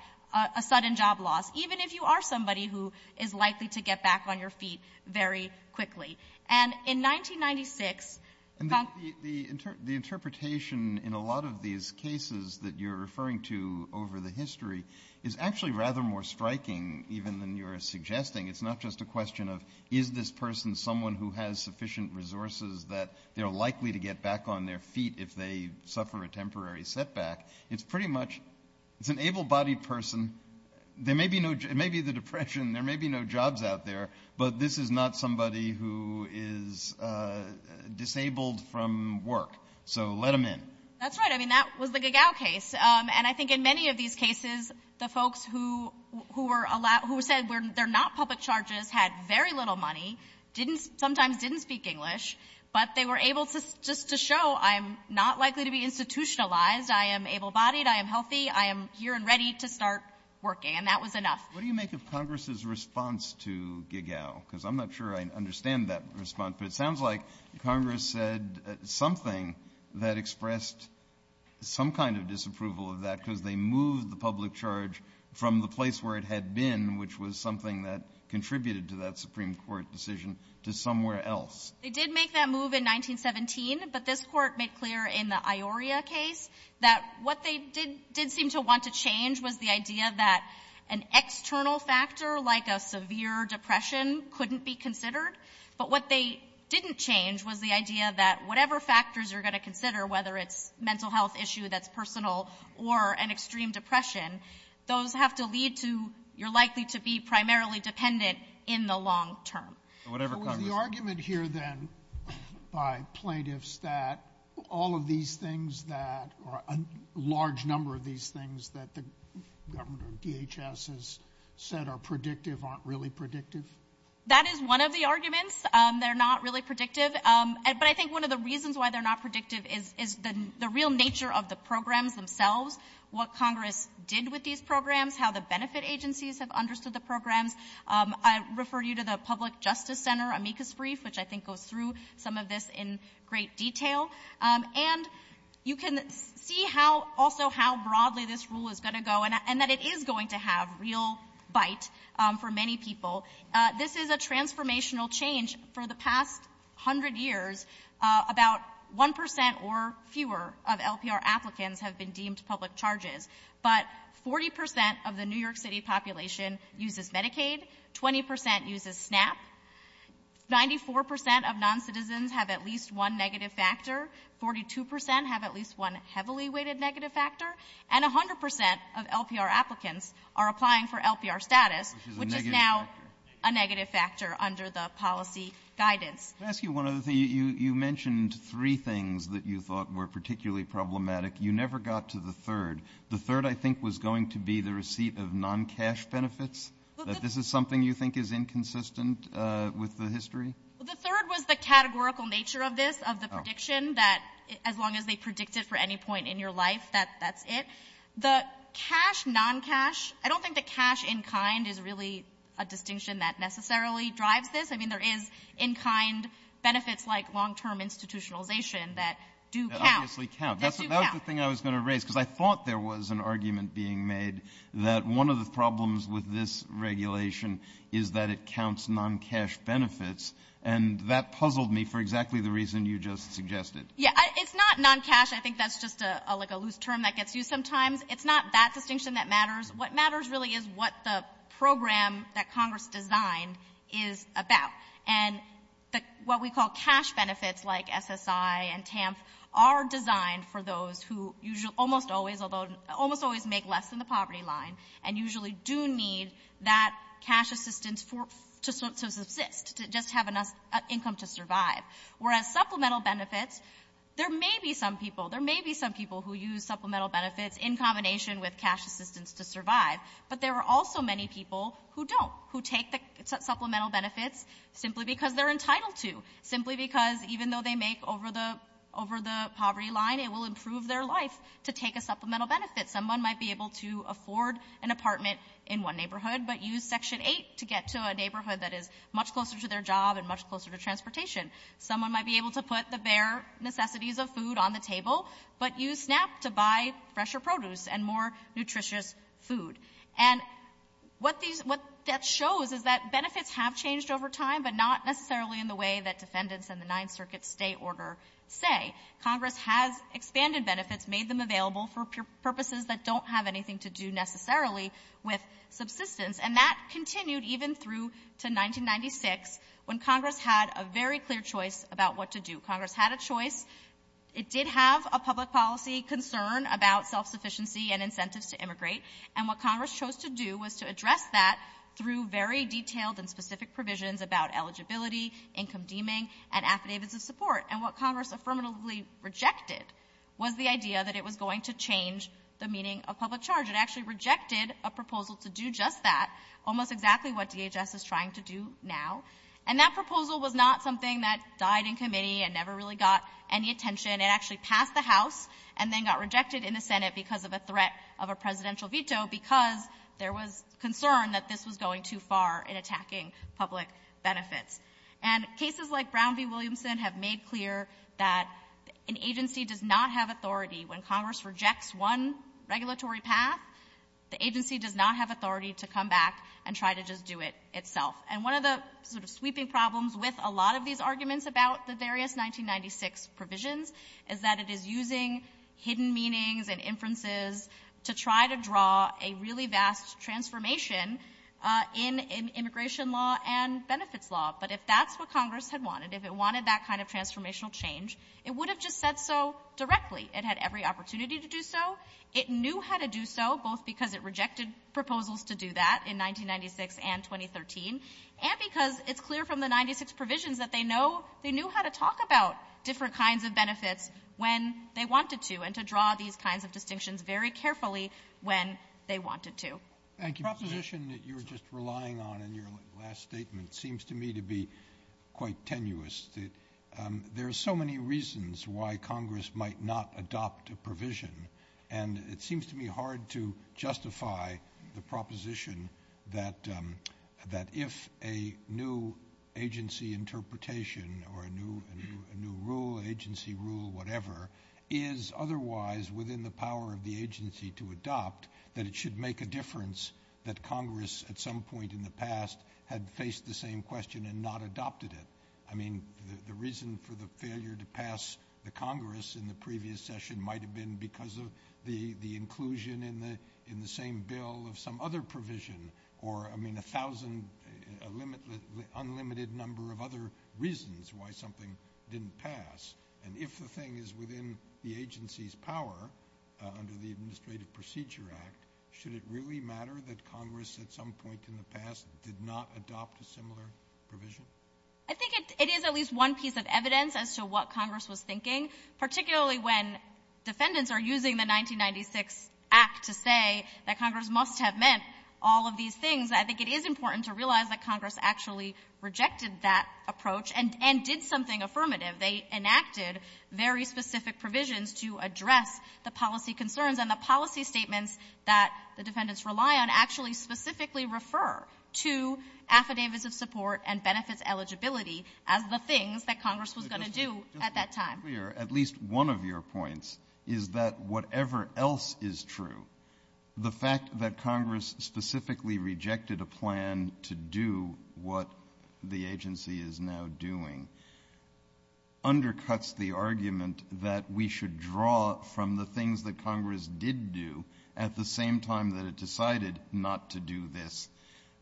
a sudden job loss, even if you are somebody who is likely to get back on your feet very quickly. And in 1996... The interpretation in a lot of these cases that you're referring to over the history is actually rather more striking even than you're suggesting. It's not just a question of is this person someone who has sufficient resources that they're likely to get back on their feet if they suffer a temporary setback. It's pretty much an able-bodied person. There may be the depression, there may be no jobs out there, but this is not somebody who is disabled from work, so let them in. That's right. I mean, that was the Gagow case. And I think in many of these cases the folks who said they're not public charges had very little money, sometimes didn't speak English, but they were able just to show I'm not likely to be institutionalized, I am able-bodied, I am healthy, I am here and ready to start working, and that was enough. What do you make of Congress's response to Gagow? Because I'm not sure I understand that response, but it sounds like Congress said something that expressed some kind of disapproval of that because they moved the public charge from the place where it had been, which was something that contributed to that Supreme Court decision, to somewhere else. They did make that move in 1917, but this court made clear in the Ioria case that what they did seem to want to change was the idea that an external factor, like a severe depression, couldn't be considered. But what they didn't change was the idea that whatever factors you're going to consider, whether it's a mental health issue that's personal or an extreme depression, those have to lead to you're likely to be primarily dependent in the long term. The argument here then by plaintiffs that all of these things that, or a large number of these things that the government, DHS, has said are predictive aren't really predictive? That is one of the arguments. They're not really predictive. But I think one of the reasons why they're not predictive is the real nature of the programs themselves, what Congress did with these programs, how the benefit agencies have understood the programs. I refer you to the Public Justice Center amicus brief, which I think goes through some of this in great detail. And you can see also how broadly this rule is going to go, and that it is going to have real bite for many people. This is a transformational change. For the past hundred years, about 1% or fewer of LPR applicants have been deemed public charges. But 40% of the New York City population uses Medicaid, 20% uses SNAP, 94% of noncitizens have at least one negative factor, 42% have at least one heavily weighted negative factor, and 100% of LPR applicants are applying for LPR status, which is now a negative factor under the policy guidance. Let me ask you one other thing. You mentioned three things that you thought were particularly problematic. You never got to the third. The third, I think, was going to be the receipt of non-cash benefits, that this is something you think is inconsistent with the history? The third was the categorical nature of this, of the prediction, that as long as they predict it for any point in your life, that's it. The cash, non-cash, I don't think that cash in kind is really a distinction that necessarily drives this. I mean, there is in kind benefits like long-term institutionalization that do count. That was the thing I was going to raise because I thought there was an argument being made that one of the problems with this regulation is that it counts non-cash benefits, and that puzzled me for exactly the reason you just suggested. Yeah, it's not non-cash. I think that's just like a loose term that gets used sometimes. It's not that distinction that matters. What matters really is what the program that Congress designed is about, and what we call cash benefits like SSI and TAMP are designed for those who almost always make less than the poverty line and usually do need that cash assistance to just have enough income to survive. Whereas supplemental benefits, there may be some people, there may be some people who use supplemental benefits in combination with cash assistance to survive, but there are also many people who don't, who take the supplemental benefits simply because they're entitled to, simply because even though they make over the poverty line, it will improve their life to take a supplemental benefit. Someone might be able to afford an apartment in one neighborhood but use Section 8 to get to a neighborhood that is much closer to their job and much closer to transportation. But use SNAP to buy fresher produce and more nutritious food. And what that shows is that benefits have changed over time, but not necessarily in the way that defendants in the Ninth Circuit State Order say. Congress has expanded benefits, made them available for purposes that don't have anything to do necessarily with subsistence, and that continued even through to 1996 when Congress had a very clear choice about what to do. Congress had a choice. It did have a public policy concern about self-sufficiency and incentives to immigrate, and what Congress chose to do was to address that through very detailed and specific provisions about eligibility, income deeming, and affidavits of support. And what Congress affirmatively rejected was the idea that it was going to change the meaning of public charge. It actually rejected a proposal to do just that, almost exactly what DHS is trying to do now. And that proposal was not something that died in committee and never really got any attention. It actually passed the House and then got rejected in the Senate because of a threat of a presidential veto because there was concern that this was going too far in attacking public benefits. And cases like Brown v. Williamson have made clear that an agency does not have authority. When Congress rejects one regulatory path, the agency does not have authority to come back and try to just do it itself. And one of the sweeping problems with a lot of these arguments about the various 1996 provisions is that it is using hidden meanings and inferences to try to draw a really vast transformation in immigration law and benefits law. But if that's what Congress had wanted, if it wanted that kind of transformational change, it would have just said so directly. It had every opportunity to do so. It knew how to do so both because it rejected proposals to do that in 1996 and 2013 and because it's clear from the 1996 provisions that they knew how to talk about different kinds of benefits when they wanted to and to draw these kinds of distinctions very carefully when they wanted to. The proposition that you were just relying on in your last statement seems to me to be quite tenuous. There are so many reasons why Congress might not adopt a provision and it seems to me hard to justify the proposition that if a new agency interpretation or a new rule, agency rule, whatever, is otherwise within the power of the agency to adopt, that it should make a difference that Congress at some point in the past had faced the same question and not adopted it. I mean, the reason for the failure to pass the Congress in the previous session might have been because of the inclusion in the same bill of some other provision or a thousand unlimited number of other reasons why something didn't pass. And if the thing is within the agency's power under the Administrative Procedure Act, should it really matter that Congress at some point in the past did not adopt a similar provision? I think it is at least one piece of evidence as to what Congress was thinking, particularly when defendants are using the 1996 act to say that Congress must have meant all of these things. I think it is important to realize that Congress actually rejected that approach and did something affirmative. They enacted very specific provisions to address the policy concerns and the policy statements that the defendants rely on actually specifically refer to affidavits of support and benefits eligibility as the things that Congress was going to do at that time. At least one of your points is that whatever else is true, the fact that Congress specifically rejected a plan to do what the agency is now doing undercuts the argument that we should draw from the things that Congress did do at the same time that it decided not to do this,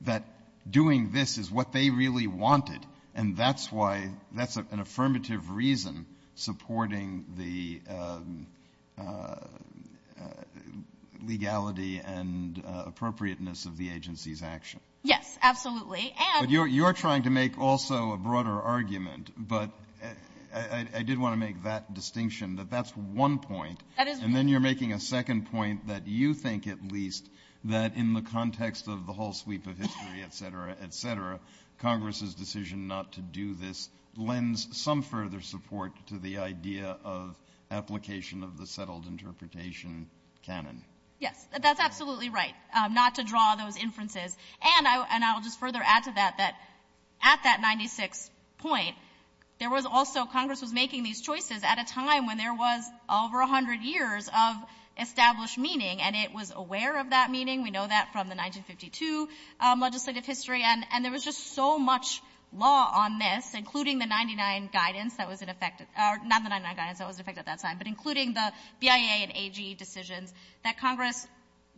that doing this is what they really wanted, and that's an affirmative reason supporting the legality and appropriateness of the agency's action. Yes, absolutely. You're trying to make also a broader argument, but I did want to make that distinction that that's one point, and then you're making a second point that you think at least that in the context of the whole sweep of history, et cetera, et cetera, Congress's decision not to do this lends some further support to the idea of application of the settled interpretation canon. Yes, that's absolutely right, not to draw those inferences. And I'll just further add to that that at that 96th point, there was also Congress was making these choices at a time when there was over 100 years of established meaning, and it was aware of that meaning. We know that from the 1952 legislative history, and there was just so much law on this, including the 99 guidance that was in effect at that time, but including the BIA and AG decisions that Congress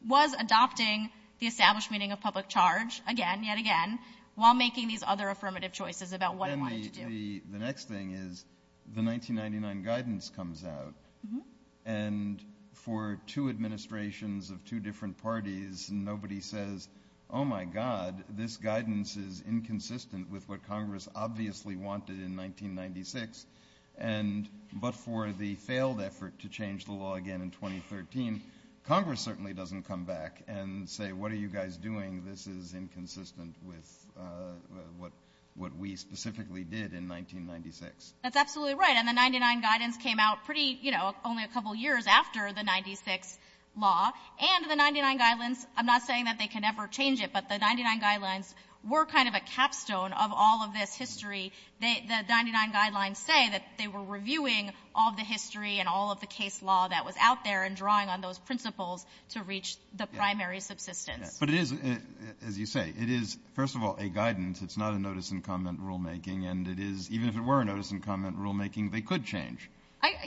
was adopting the established meaning of public charge again, yet again, while making these other affirmative choices about what it wanted to do. The next thing is the 1999 guidance comes out, and for two administrations of two different parties, nobody says, oh, my God, this guidance is inconsistent with what Congress obviously wanted in 1996, but for the failed effort to change the law again in 2013, Congress certainly doesn't come back and say, what are you guys doing? This is inconsistent with what we specifically did in 1996. That's absolutely right, and the 99 guidance came out pretty, you know, only a couple years after the 96th law, and the 99 guidelines, I'm not saying that they can never change it, but the 99 guidelines were kind of a capstone of all of this history. The 99 guidelines say that they were reviewing all of the history and all of the case law that was out there and drawing on those principles to reach the primary subsistence. But it is, as you say, it is, first of all, a guidance. It's not a notice and comment rulemaking, and it is, even if it were a notice and comment rulemaking, they could change.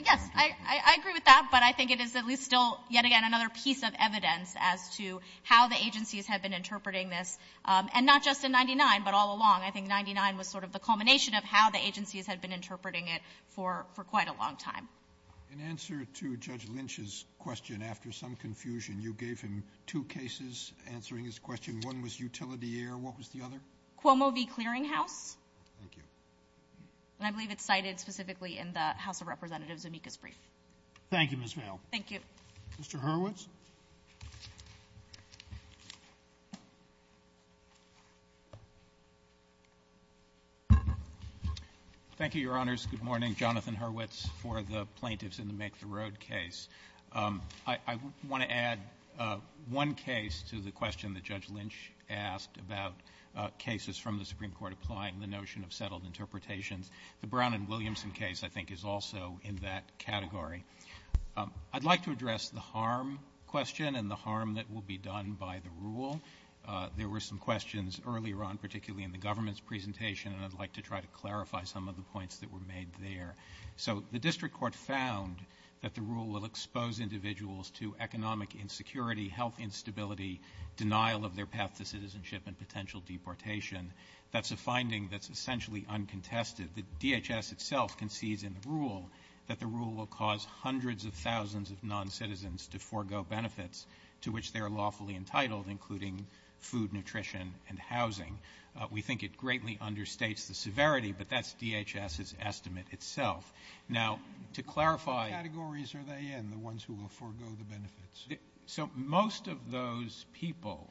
Yes, I agree with that, but I think it is at least still, yet again, another piece of evidence as to how the agencies had been interpreting this, and not just in 99, but all along. I think 99 was sort of the culmination of how the agencies had been interpreting it for quite a long time. In answer to Judge Lynch's question, after some confusion, you gave him two cases answering his question. One was utility air. What was the other? Cuomo v. Clearing House, and I believe it's cited specifically in the House of Representatives' amicus brief. Thank you, Ms. Hale. Thank you. Mr. Hurwitz? Thank you, Your Honors. Good morning. Jonathan Hurwitz for the Plaintiffs in New Mexico Road case. I want to add one case to the question that Judge Lynch asked about cases from the Supreme Court applying the notion of settled interpretations. The Brown v. Williamson case, I think, is also in that category. I'd like to address the harm question and the harm that will be done by the rule. There were some questions earlier on, particularly in the government's presentation, and I'd like to try to clarify some of the points that were made there. So the district court found that the rule will expose individuals to economic insecurity, health instability, denial of their path to citizenship and potential deportation. That's a finding that's essentially uncontested. The DHS itself concedes in the rule that the rule will cause hundreds of thousands of noncitizens to forego benefits to which they are lawfully entitled, including food, nutrition, and housing. We think it greatly understates the severity, but that's DHS's estimate itself. Now, to clarify... What categories are they in, the ones who will forego the benefits? So most of those people,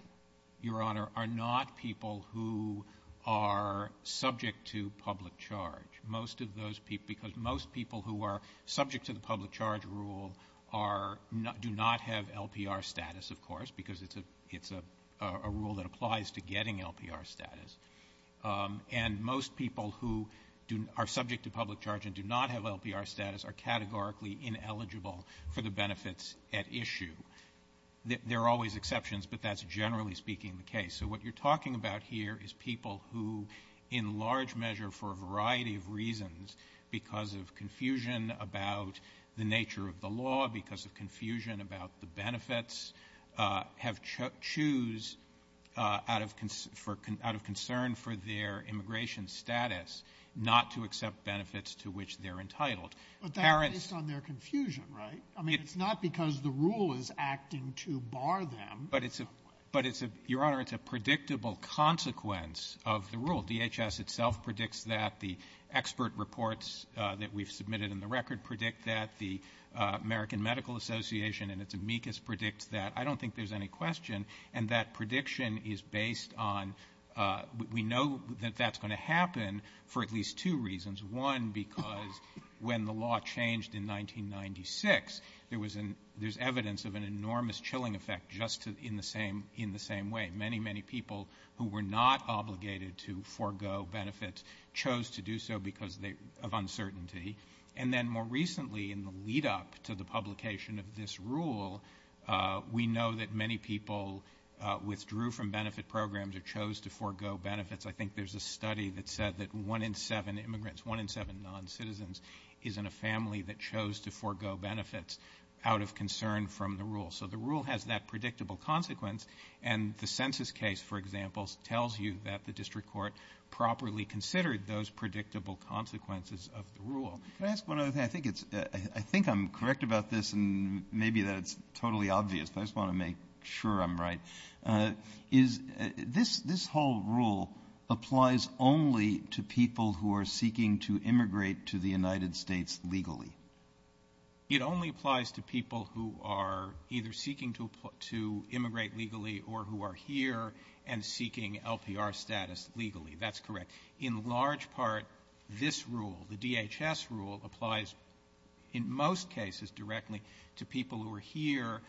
Your Honor, are not people who are subject to public charge. Most of those people... Because most people who are subject to the public charge rule do not have LPR status, of course, because it's a rule that applies to getting LPR status. And most people who are subject to public charge and do not have LPR status are categorically ineligible for the benefits at issue. There are always exceptions, but that's generally speaking the case. So what you're talking about here is people who, in large measure for a variety of reasons, because of confusion about the nature of the law, because of confusion about the benefits, have choose out of concern for their immigration status not to accept benefits to which they're entitled. But that's based on their confusion, right? I mean, it's not because the rule is acting to bar them. But, Your Honor, it's a predictable consequence of the rule. DHS itself predicts that. The expert reports that we've submitted in the record predict that. The American Medical Association and its amicus predict that. I don't think there's any question. And that prediction is based on... We know that that's going to happen for at least two reasons. One, because when the law changed in 1996, there's evidence of an enormous chilling effect just in the same way. Many, many people who were not obligated to forego benefits chose to do so because of uncertainty. And then more recently, in the lead-up to the publication of this rule, we know that many people withdrew from benefit programs or chose to forego benefits. I think there's a study that said that one in seven immigrants, one in seven noncitizens, is in a family that chose to forego benefits out of concern from the rule. So the rule has that predictable consequence. And the census case, for example, tells you that the district court properly considered those predictable consequences of the rule. Can I ask one other thing? I think I'm correct about this, and maybe that's totally obvious, but I just want to make sure I'm right. This whole rule applies only to people who are seeking to immigrate to the United States legally? It only applies to people who are either seeking to immigrate legally or who are here and seeking LPR status legally. That's correct. In large part, this rule, the DHS rule, applies in most cases directly to people who are here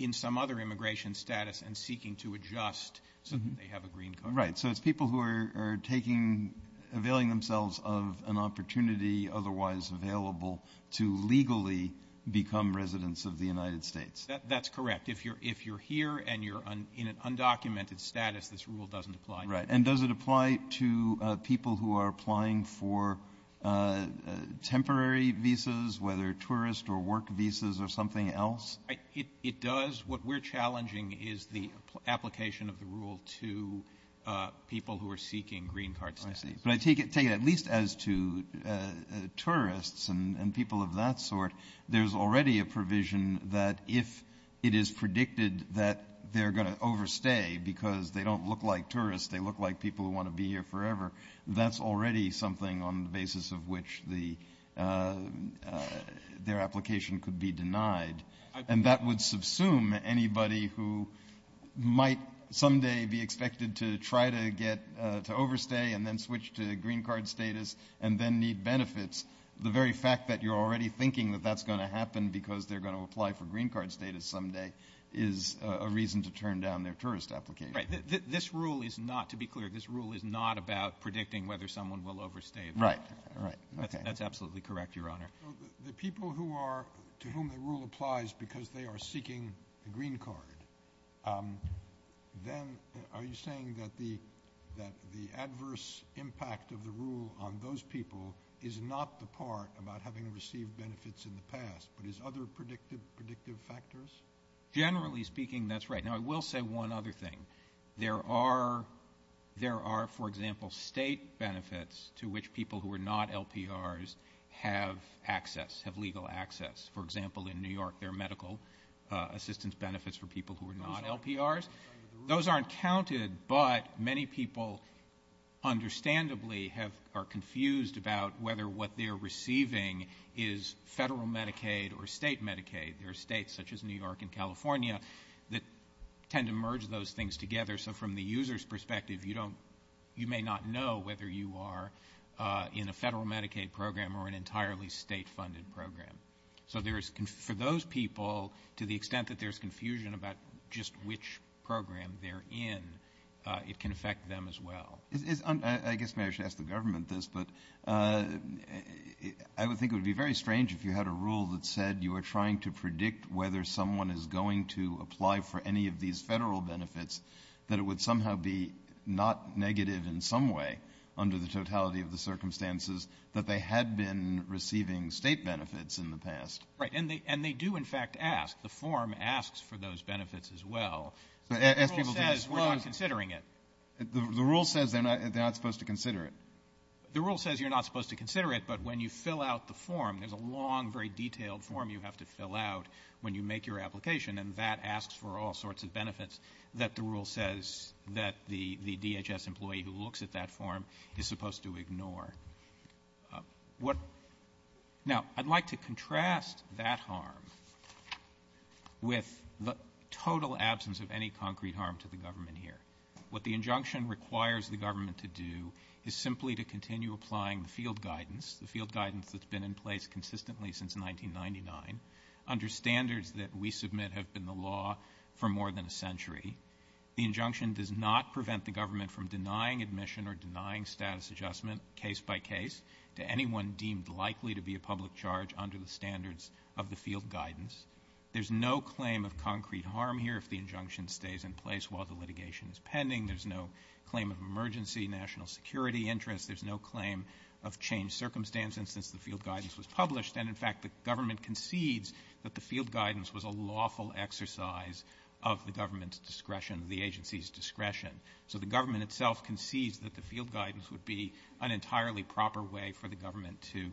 in some other immigration status and seeking to adjust so that they have a green card. Right, so it's people who are taking, availing themselves of an opportunity otherwise available to legally become residents of the United States. That's correct. this rule doesn't apply to you. Right, and does it apply to people who are applying for temporary visas, whether tourist or work visas or something else? It does. What we're challenging is the application of the rule to people who are seeking green card status. I see. But I take it at least as to tourists and people of that sort. There's already a provision that if it is predicted that they're going to overstay because they don't look like tourists, they look like people who want to be here forever, that's already something on the basis of which their application could be denied. And that would subsume anybody who might someday be expected to try to overstay and then switch to green card status and then need benefits. The very fact that you're already thinking that that's going to happen because they're going to apply for green card status someday is a reason to turn down their tourist application. This rule is not, to be clear, this rule is not about predicting whether someone will overstay. Right. That's absolutely correct, Your Honor. The people to whom the rule applies because they are seeking green card, then are you saying that the adverse impact of the rule on those people is not the part about having received benefits in the past but is other predictive factors? Generally speaking, that's right. Now, I will say one other thing. There are, for example, state benefits to which people who are not LPRs have access, have legal access. For example, in New York, there are medical assistance benefits for people who are not LPRs. Those aren't counted, but many people understandably are confused about whether what they're receiving is federal Medicaid or state Medicaid. There are states such as New York and California that tend to merge those things together, so from the user's perspective, you may not know whether you are in a federal Medicaid program or an entirely state-funded program. So for those people, to the extent that there's confusion about just which program they're in, it can affect them as well. I guess maybe I should ask the government this, but I think it would be very strange if you had a rule that said you were trying to predict whether someone is going to apply for any of these federal benefits, that it would somehow be not negative in some way under the totality of the circumstances that they had been receiving state benefits in the past. Right, and they do, in fact, ask. The form asks for those benefits as well. The rule says we're not considering it. The rule says they're not supposed to consider it. The rule says you're not supposed to consider it, but when you fill out the form, there's a long, very detailed form you have to fill out when you make your application, and that asks for all sorts of benefits that the rule says that the DHS employee who looks at that form is supposed to ignore. Now, I'd like to contrast that harm with the total absence of any concrete harm to the government here. What the injunction requires the government to do is simply to continue applying the field guidance, the field guidance that's been in place consistently since 1999, under standards that we submit have been the law for more than a century. The injunction does not prevent the government from denying admission or denying status adjustment case by case to anyone deemed likely to be a public charge under the standards of the field guidance. There's no claim of concrete harm here if the injunction stays in place while the litigation is pending. There's no claim of emergency national security interest. There's no claim of changed circumstances since the field guidance was published, and, in fact, the government concedes that the field guidance was a lawful exercise of the government's discretion, the agency's discretion. So the government itself concedes that the field guidance would be an entirely proper way for the government to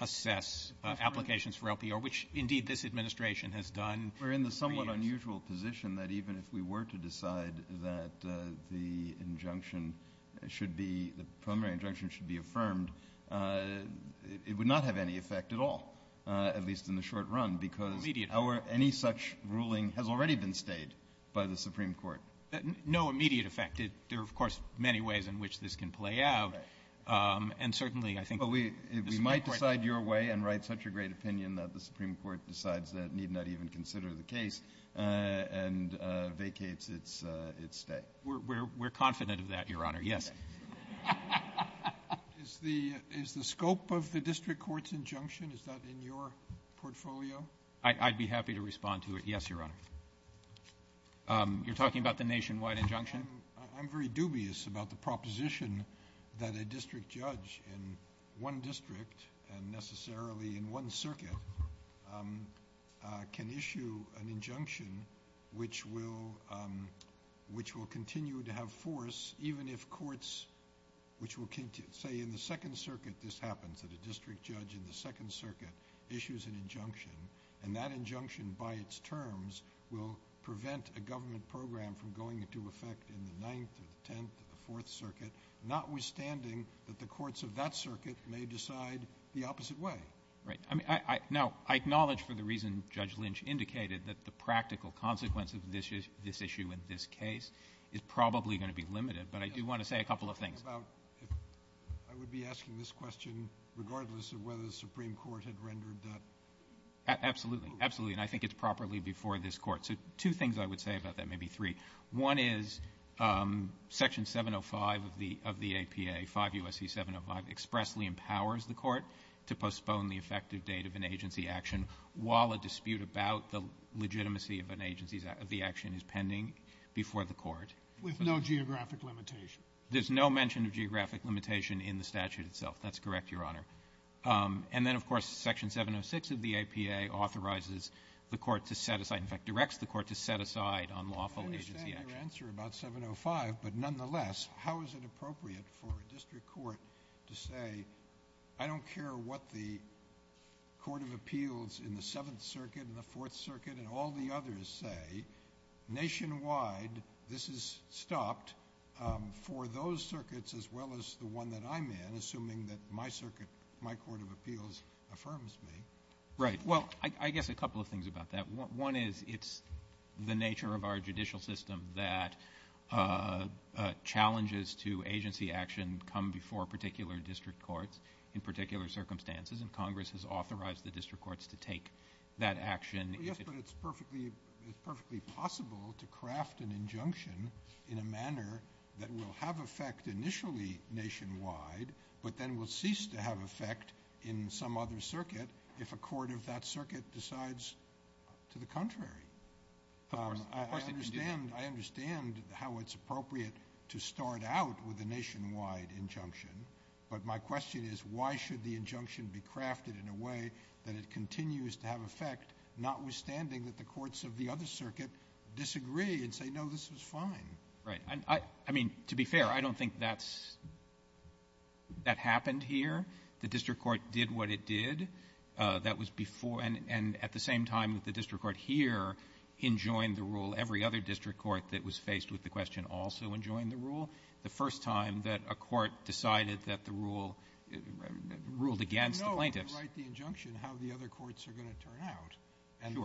assess applications for LPR, which, indeed, this administration has done... We're in the somewhat unusual position that even if we were to decide that the injunction should be... the primary injunction should be affirmed, it would not have any effect at all, at least in the short run, because any such ruling has already been stated by the Supreme Court. No immediate effect. There are, of course, many ways in which this can play out, and certainly I think... But we might decide your way and write such a great opinion that the Supreme Court decides that need not even consider the case and vacates its stay. We're confident of that, Your Honor. Yes. Is the scope of the district court's injunction, is that in your portfolio? I'd be happy to respond to it. Yes, Your Honor. You're talking about the nationwide injunction? I'm very dubious about the proposition that a district judge in one district and necessarily in one circuit can issue an injunction which will continue to have force even if courts... Say in the Second Circuit this happened, that a district judge in the Second Circuit issues an injunction, and that injunction by its terms will prevent a government program from going into effect in the Ninth, the Tenth, the Fourth Circuit, notwithstanding that the courts of that circuit may decide the opposite way. Right. Now, I acknowledge for the reason Judge Lynch indicated that the practical consequences of this issue in this case is probably going to be limited, but I do want to say a couple of things. I would be asking this question regardless of whether the Supreme Court had rendered that... Absolutely. And I think it's properly before this Court. So two things I would say about that, maybe three. One is Section 705 of the APA, 5 U.S.C. 705, expressly empowers the Court to postpone the effective date of an agency action while a dispute about the legitimacy of an agency action is pending before the Court. With no geographic limitation. There's no mention of geographic limitation in the statute itself. That's correct, Your Honor. And then, of course, Section 706 of the APA authorizes the Court to set aside... in fact, directs the Court to set aside on lawful agency action. I understand your answer about 705, but nonetheless, how is it appropriate for a district court to say, I don't care what the Court of Appeals in the Seventh Circuit and the Fourth Circuit and all the others say. Nationwide, this is stopped for those circuits as well as the one that I'm in, assuming that my circuit, my Court of Appeals affirms me. Right. Well, I guess a couple of things about that. One is it's the nature of our judicial system that challenges to agency action come before particular district courts in particular circumstances, and Congress has authorized the district courts to take that action. Yes, but it's perfectly possible to craft an injunction in a manner that will have effect initially nationwide, but then will cease to have effect in some other circuit if a court of that circuit decides to the contrary. I understand how it's appropriate to start out with a nationwide injunction, but my question is, why should the injunction be crafted in a way that it continues to have effect, notwithstanding that the courts of the other circuit disagree and say, no, this is fine. Right. I mean, to be fair, I don't think that happened here. The district court did what it did. That was before, and at the same time that the district court here enjoined the rule, every other district court that was faced with the question also enjoined the rule. The first time that a court decided that the rule ruled against the plaintiffs. No, if you write the injunction, how the other courts are going to turn out. Sure. And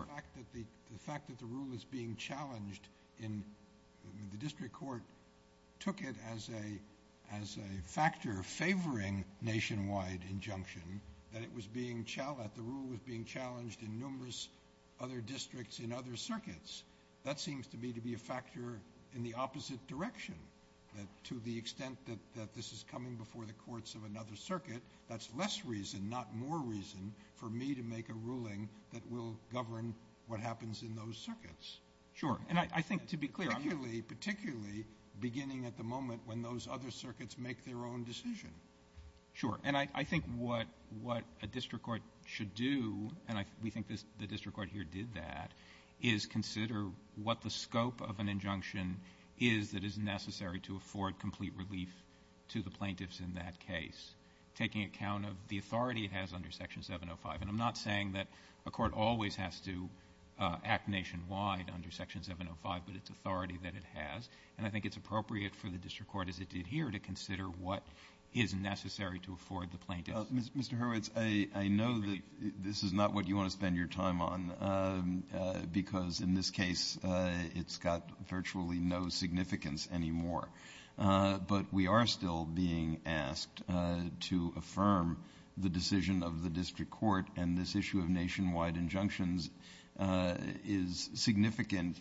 the fact that the rule was being challenged, the district court took it as a factor favoring nationwide injunction, that the rule was being challenged in numerous other districts in other circuits. That seems to me to be a factor in the opposite direction. To the extent that this is coming before the courts of another circuit, that's less reason, not more reason, for me to make a ruling that will govern what happens in those circuits. Sure. And I think to be clear, particularly beginning at the moment when those other circuits make their own decision. Sure. And I think what a district court should do, and we think the district court here did that, is consider what the scope of an injunction is that is necessary to afford complete relief to the plaintiffs in that case, taking account of the authority it has under Section 705. And I'm not saying that a court always has to act nationwide under Section 705, but it's authority that it has. And I think it's appropriate for the district court, as it did here, to consider what is necessary to afford the plaintiffs. Mr. Hurwitz, I know that this is not what you want to spend your time on, because in this case, it's got virtually no significance anymore. But we are still being asked to affirm the decision of the district court, and this issue of nationwide injunctions is significant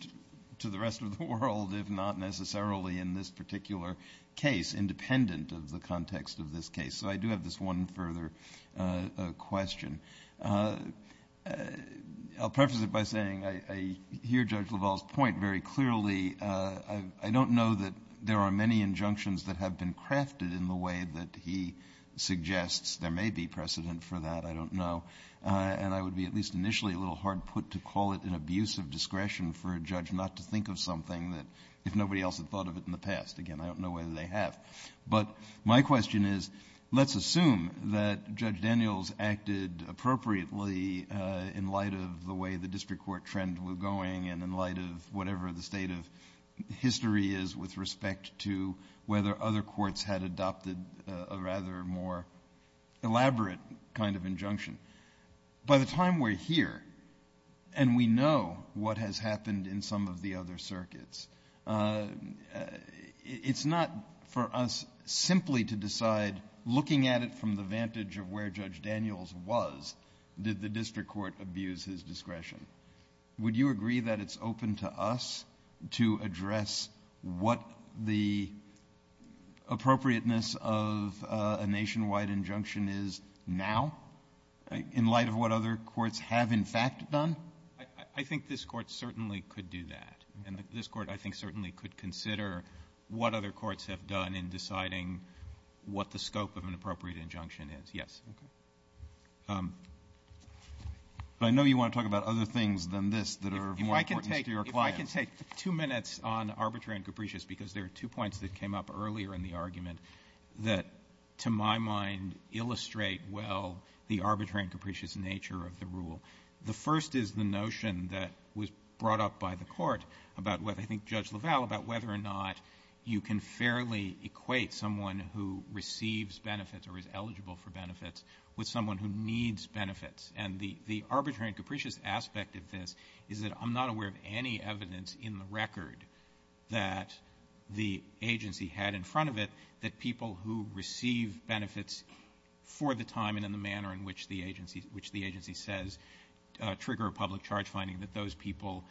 to the rest of the world, if not necessarily in this particular case, independent of the context of this case. So I do have this one further question. I'll preface it by saying I hear Judge LaValle's point very clearly. I don't know that there are many injunctions that have been crafted in the way that he suggests there may be precedent for that. I don't know. And I would be at least initially a little hard-put to call it an abuse of discretion for a judge not to think of something that if nobody else had thought of it in the past, again, I don't know whether they have. But my question is, let's assume that Judge Daniels acted appropriately in light of the way the district court trend was going and in light of whatever the state of history is with respect to whether other courts had adopted a rather more elaborate kind of injunction. By the time we're here, and we know what has happened in some of the other circuits, it's not for us simply to decide, looking at it from the vantage of where Judge Daniels was, did the district court abuse his discretion. Would you agree that it's open to us to address what the appropriateness of a nationwide injunction is now in light of what other courts have in fact done? I think this court certainly could do that. And this court, I think, certainly could consider what other courts have done in deciding what the scope of an appropriate injunction is. Yes. I know you want to talk about other things than this that are more important to your client. If I can take two minutes on arbitrary and capricious, because there are two points that came up earlier in the argument that, to my mind, illustrate well the arbitrary and capricious nature of the rule. The first is the notion that was brought up by the court about what I think Judge LaValle, about whether or not you can fairly equate someone who receives benefits or is eligible for benefits with someone who needs benefits. And the arbitrary and capricious aspect of this is that I'm not aware of any evidence in the record that the agency had in front of it that people who receive benefits for the time and in the manner in which the agency says trigger a public charge finding that those people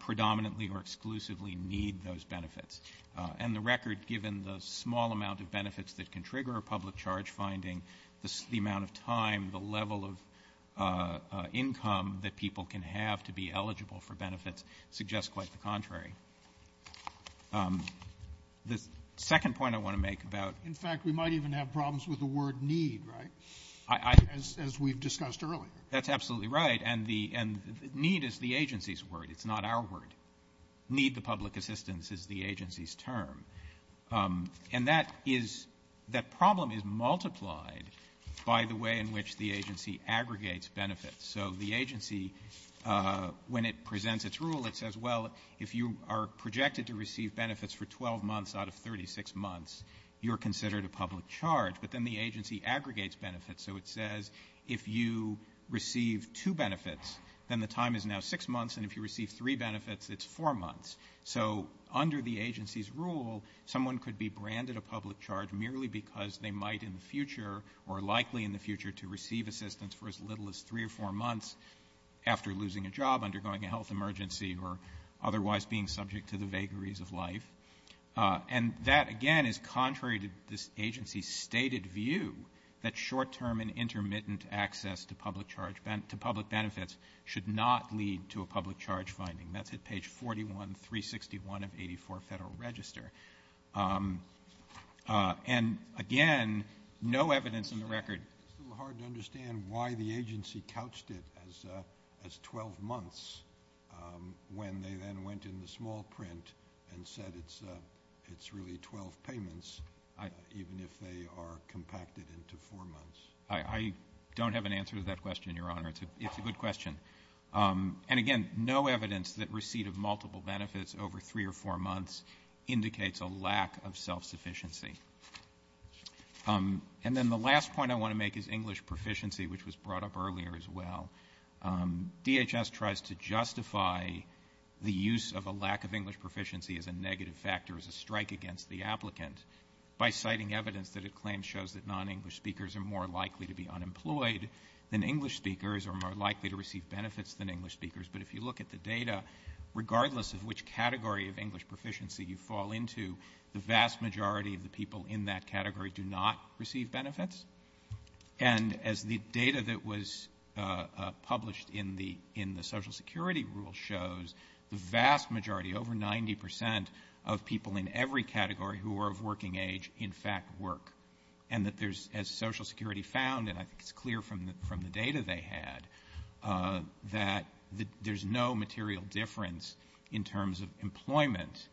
predominantly or exclusively need those benefits. And the record, given the small amount of benefits that can trigger a public charge finding, the amount of time, the level of income that people can have to be eligible for benefits suggests quite the contrary. The second point I want to make about... In fact, we might even have problems with the word need, right? As we've discussed earlier. That's absolutely right. And need is the agency's word. It's not our word. Need to public assistance is the agency's term. And that problem is multiplied by the way in which the agency aggregates benefits. So the agency, when it presents its rule, it says, well, if you are projected to receive benefits for 12 months out of 36 months, you're considered a public charge. But then the agency aggregates benefits. So it says if you receive two benefits, then the time is now six months, and if you receive three benefits, it's four months. So under the agency's rule, someone could be branded a public charge merely because they might in the future or are likely in the future to receive assistance for as little as three or four months after losing a job, undergoing a health emergency, or otherwise being subject to the vagaries of life. And that, again, is contrary to this agency's stated view that short-term and intermittent access to public benefits should not lead to a public charge finding. That's at page 41, 361 of 84 Federal Register. And, again, no evidence in the record... It's hard to understand why the agency couched it as 12 months when they then went in the small print and said it's really 12 payments, even if they are compacted into four months. I don't have an answer to that question, Your Honor. It's a good question. And, again, no evidence that receipt of multiple benefits over three or four months indicates a lack of self-sufficiency. And then the last point I want to make is English proficiency, which was brought up earlier as well. DHS tries to justify the use of a lack of English proficiency as a negative factor, as a strike against the applicant, by citing evidence that a claim shows that non-English speakers are more likely to be unemployed than English speakers or more likely to receive benefits than English speakers. But if you look at the data, regardless of which category of English proficiency you fall into, the vast majority of the people in that category do not receive benefits. And as the data that was published in the Social Security Rule shows, the vast majority, over 90 percent of people in every category who are of working age, in fact, work. And as Social Security found, and I think it's clear from the data they had, that there's no material difference in terms of employment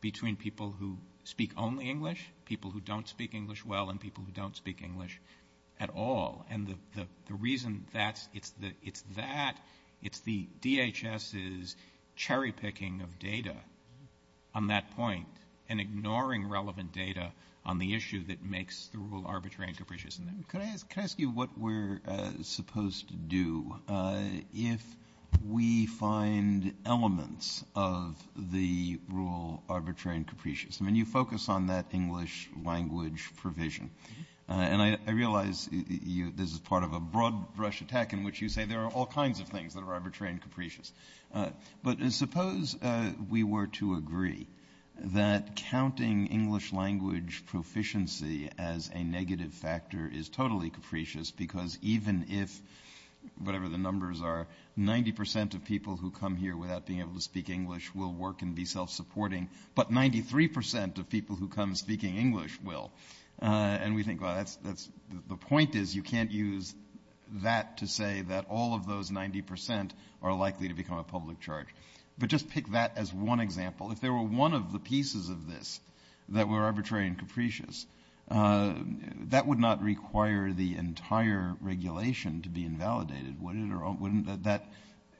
between people who speak only English, people who don't speak English well, and people who don't speak English at all. And the reason it's that, it's the DHS's cherry-picking of data on that point and ignoring relevant data on the issue that makes the rule arbitrary and capricious. Can I ask you what we're supposed to do if we find elements of the rule arbitrary and capricious? I mean, you focus on that English language provision. And I realize this is part of a broad-brush attack in which you say there are all kinds of things that are arbitrary and capricious. But suppose we were to agree that counting English language proficiency as a negative factor is totally capricious, because even if, whatever the numbers are, 90 percent of people who come here without being able to speak English will work and be self-supporting, but 93 percent of people who come speaking English will. And we think, well, the point is you can't use that to say that all of those 90 percent are likely to become a public charge. But just pick that as one example. If there were one of the pieces of this that were arbitrary and capricious, that would not require the entire regulation to be invalidated, would it?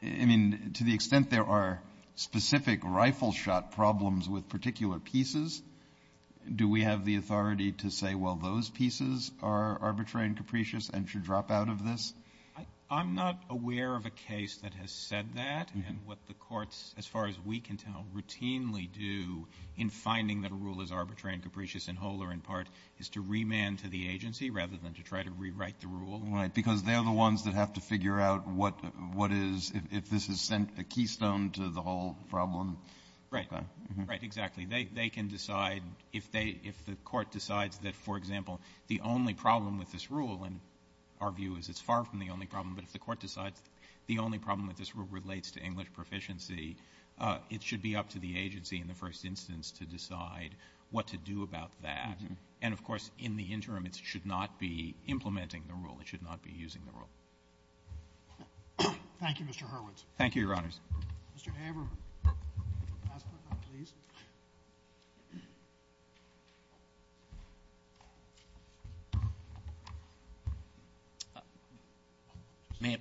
I mean, to the extent there are specific rifle-shot problems with particular pieces, do we have the authority to say, well, those pieces are arbitrary and capricious and should drop out of this? I'm not aware of a case that has said that, and what the courts, as far as we can tell, routinely do in finding that a rule is arbitrary and capricious in whole or in part is to remand to the agency rather than to try to rewrite the rule. Right, because they're the ones that have to figure out if this has sent a keystone to the whole problem. Right, exactly. They can decide if the court decides that, for example, the only problem with this rule, and our view is it's far from the only problem, but if the court decides the only problem with this rule relates to English proficiency, it should be up to the agency in the first instance to decide what to do about that. And, of course, in the interim it should not be implementing the rule. It should not be using the rule. Thank you, Mr. Hurwitz. Thank you, Your Honors. Mr. Hammer, last but not least. May it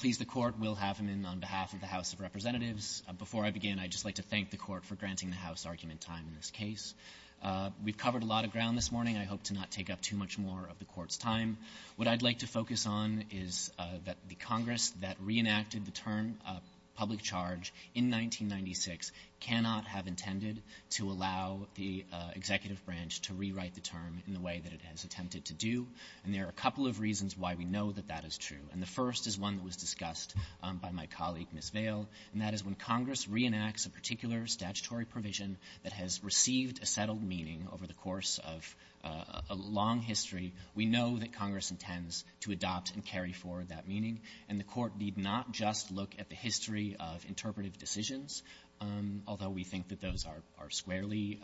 please the Court, we'll have him in on behalf of the House of Representatives. Before I begin, I'd just like to thank the Court for granting the House argument time in this case. We've covered a lot of ground this morning. I hope to not take up too much more of the Court's time. What I'd like to focus on is that the Congress that reenacted the term of public charge in 1996 cannot have intended to allow the executive branch to rewrite the term in the way that it has attempted to do. And there are a couple of reasons why we know that that is true. And the first is one that was discussed by my colleague, Ms. Vail, and that is when Congress reenacts a particular statutory provision that has received a settled meaning over the course of a long history, we know that Congress intends to adopt and carry forward that meaning. And the Court need not just look at the history of interpretive decisions, although we think that those are squarely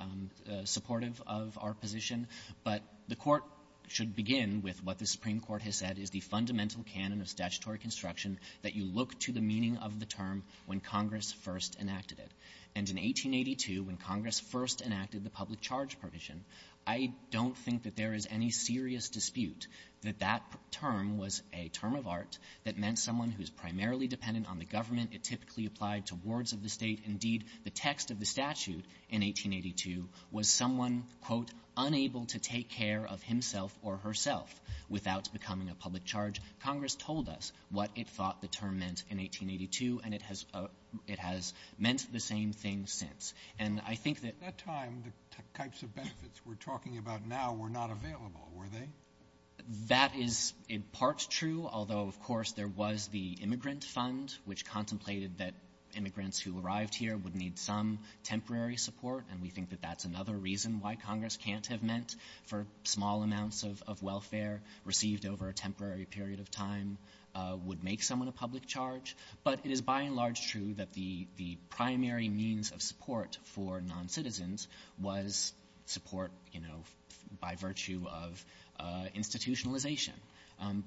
supportive of our position, but the Court should begin with what the Supreme Court has said is the fundamental canon of statutory construction that you look to the meaning of the term when Congress first enacted it. And in 1882, when Congress first enacted the public charge provision, I don't think that there is any serious dispute that that term was a term of art that meant someone who is primarily dependent on the government. It typically applied to wards of the state. Indeed, the text of the statute in 1882 was someone, quote, unable to take care of himself or herself without becoming a public charge. Congress told us what it thought the term meant in 1882, and it has meant the same thing since. At that time, the types of benefits we're talking about now were not available, were they? That is in part true, although, of course, there was the immigrant fund, which contemplated that immigrants who arrived here would need some temporary support, and we think that that's another reason why Congress can't have meant for small amounts of welfare received over a temporary period of time would make someone a public charge. But it is by and large true that the primary means of support for noncitizens was support, you know, by virtue of institutionalization.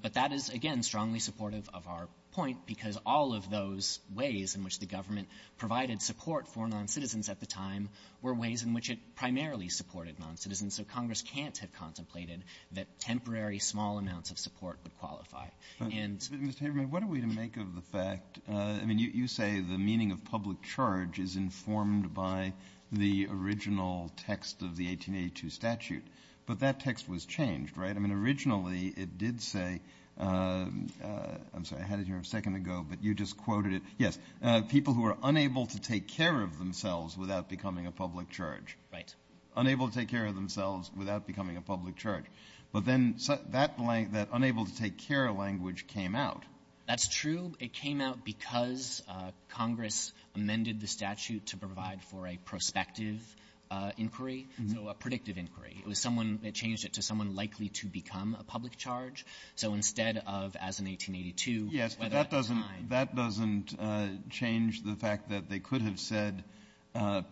But that is, again, strongly supportive of our point, because all of those ways in which the government provided support for noncitizens at the time were ways in which it primarily supported noncitizens, so Congress can't have contemplated that temporary small amounts of support would qualify. Mr. Abrams, what are we to make of the fact, I mean, you say the meaning of public charge is informed by the original text of the 1882 statute, but that text was changed, right? I mean, originally it did say, I'm sorry, I had it here a second ago, but you just quoted it. Yes, people who are unable to take care of themselves without becoming a public charge. Unable to take care of themselves without becoming a public charge. But then that unable to take care language came out. That's true. It came out because Congress amended the statute to provide for a prospective inquiry, a predictive inquiry. It was someone that changed it to someone likely to become a public charge. So instead of as in 1882. Yes, but that doesn't change the fact that they could have said that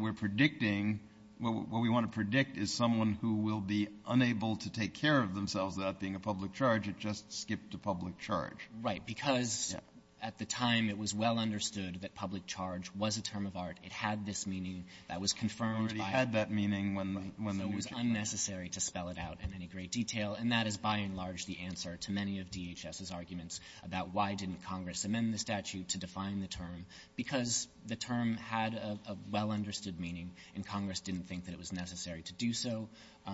we're predicting, what we want to predict is someone who will be unable to take care of themselves without being a public charge. It just skipped to public charge. Right, because at the time it was well understood that public charge was a term of art. It had this meaning that was confirmed by. It already had that meaning when. It was unnecessary to spell it out in any great detail, and that is by and large the answer to many of DHS's arguments about why didn't Congress amend the statute to define the term. Because the term had a well-understood meaning, and Congress didn't think that it was necessary to do so.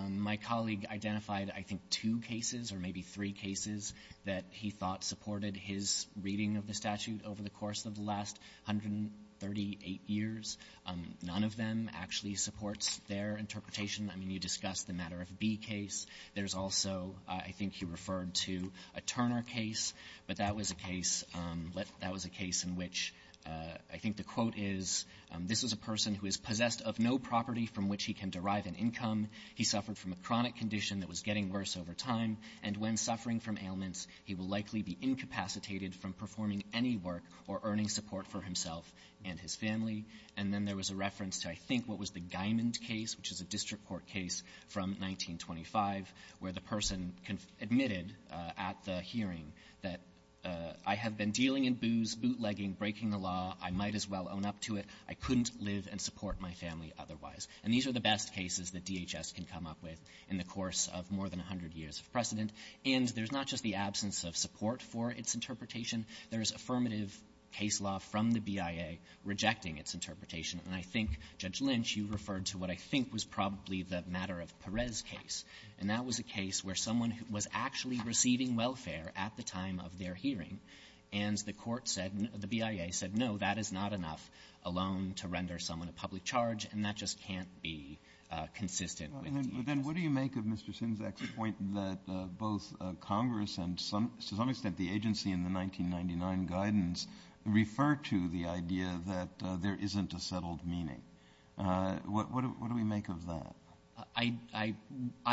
My colleague identified, I think, two cases or maybe three cases that he thought supported his reading of the statute over the course of the last 138 years. None of them actually supports their interpretation. I mean, you discussed the Matter of B case. There's also, I think you referred to a Turner case. But that was a case in which I think the quote is, this is a person who is possessed of no property from which he can derive an income. He suffered from a chronic condition that was getting worse over time, and when suffering from ailments he will likely be incapacitated from performing any work or earning support for himself and his family. And then there was a reference to, I think, what was the Diamond case, which is a district court case from 1925 where the person admitted at the hearing that, I have been dealing in booze, bootlegging, breaking the law. I might as well own up to it. I couldn't live and support my family otherwise. And these are the best cases that DHS can come up with in the course of more than 100 years of precedent. And there's not just the absence of support for its interpretation. There's affirmative case law from the BIA rejecting its interpretation. And I think, Judge Lynch, you referred to what I think was probably the matter of Perez case, and that was a case where someone was actually receiving welfare at the time of their hearing, and the court said, the BIA said, no, that is not enough alone to render someone a public charge, and that just can't be consistent. Then what do you make of Mr. Sinzak's point that both Congress and, to some extent, the agency in the 1999 guidance refer to the idea that there isn't a settled meaning? What do we make of that? I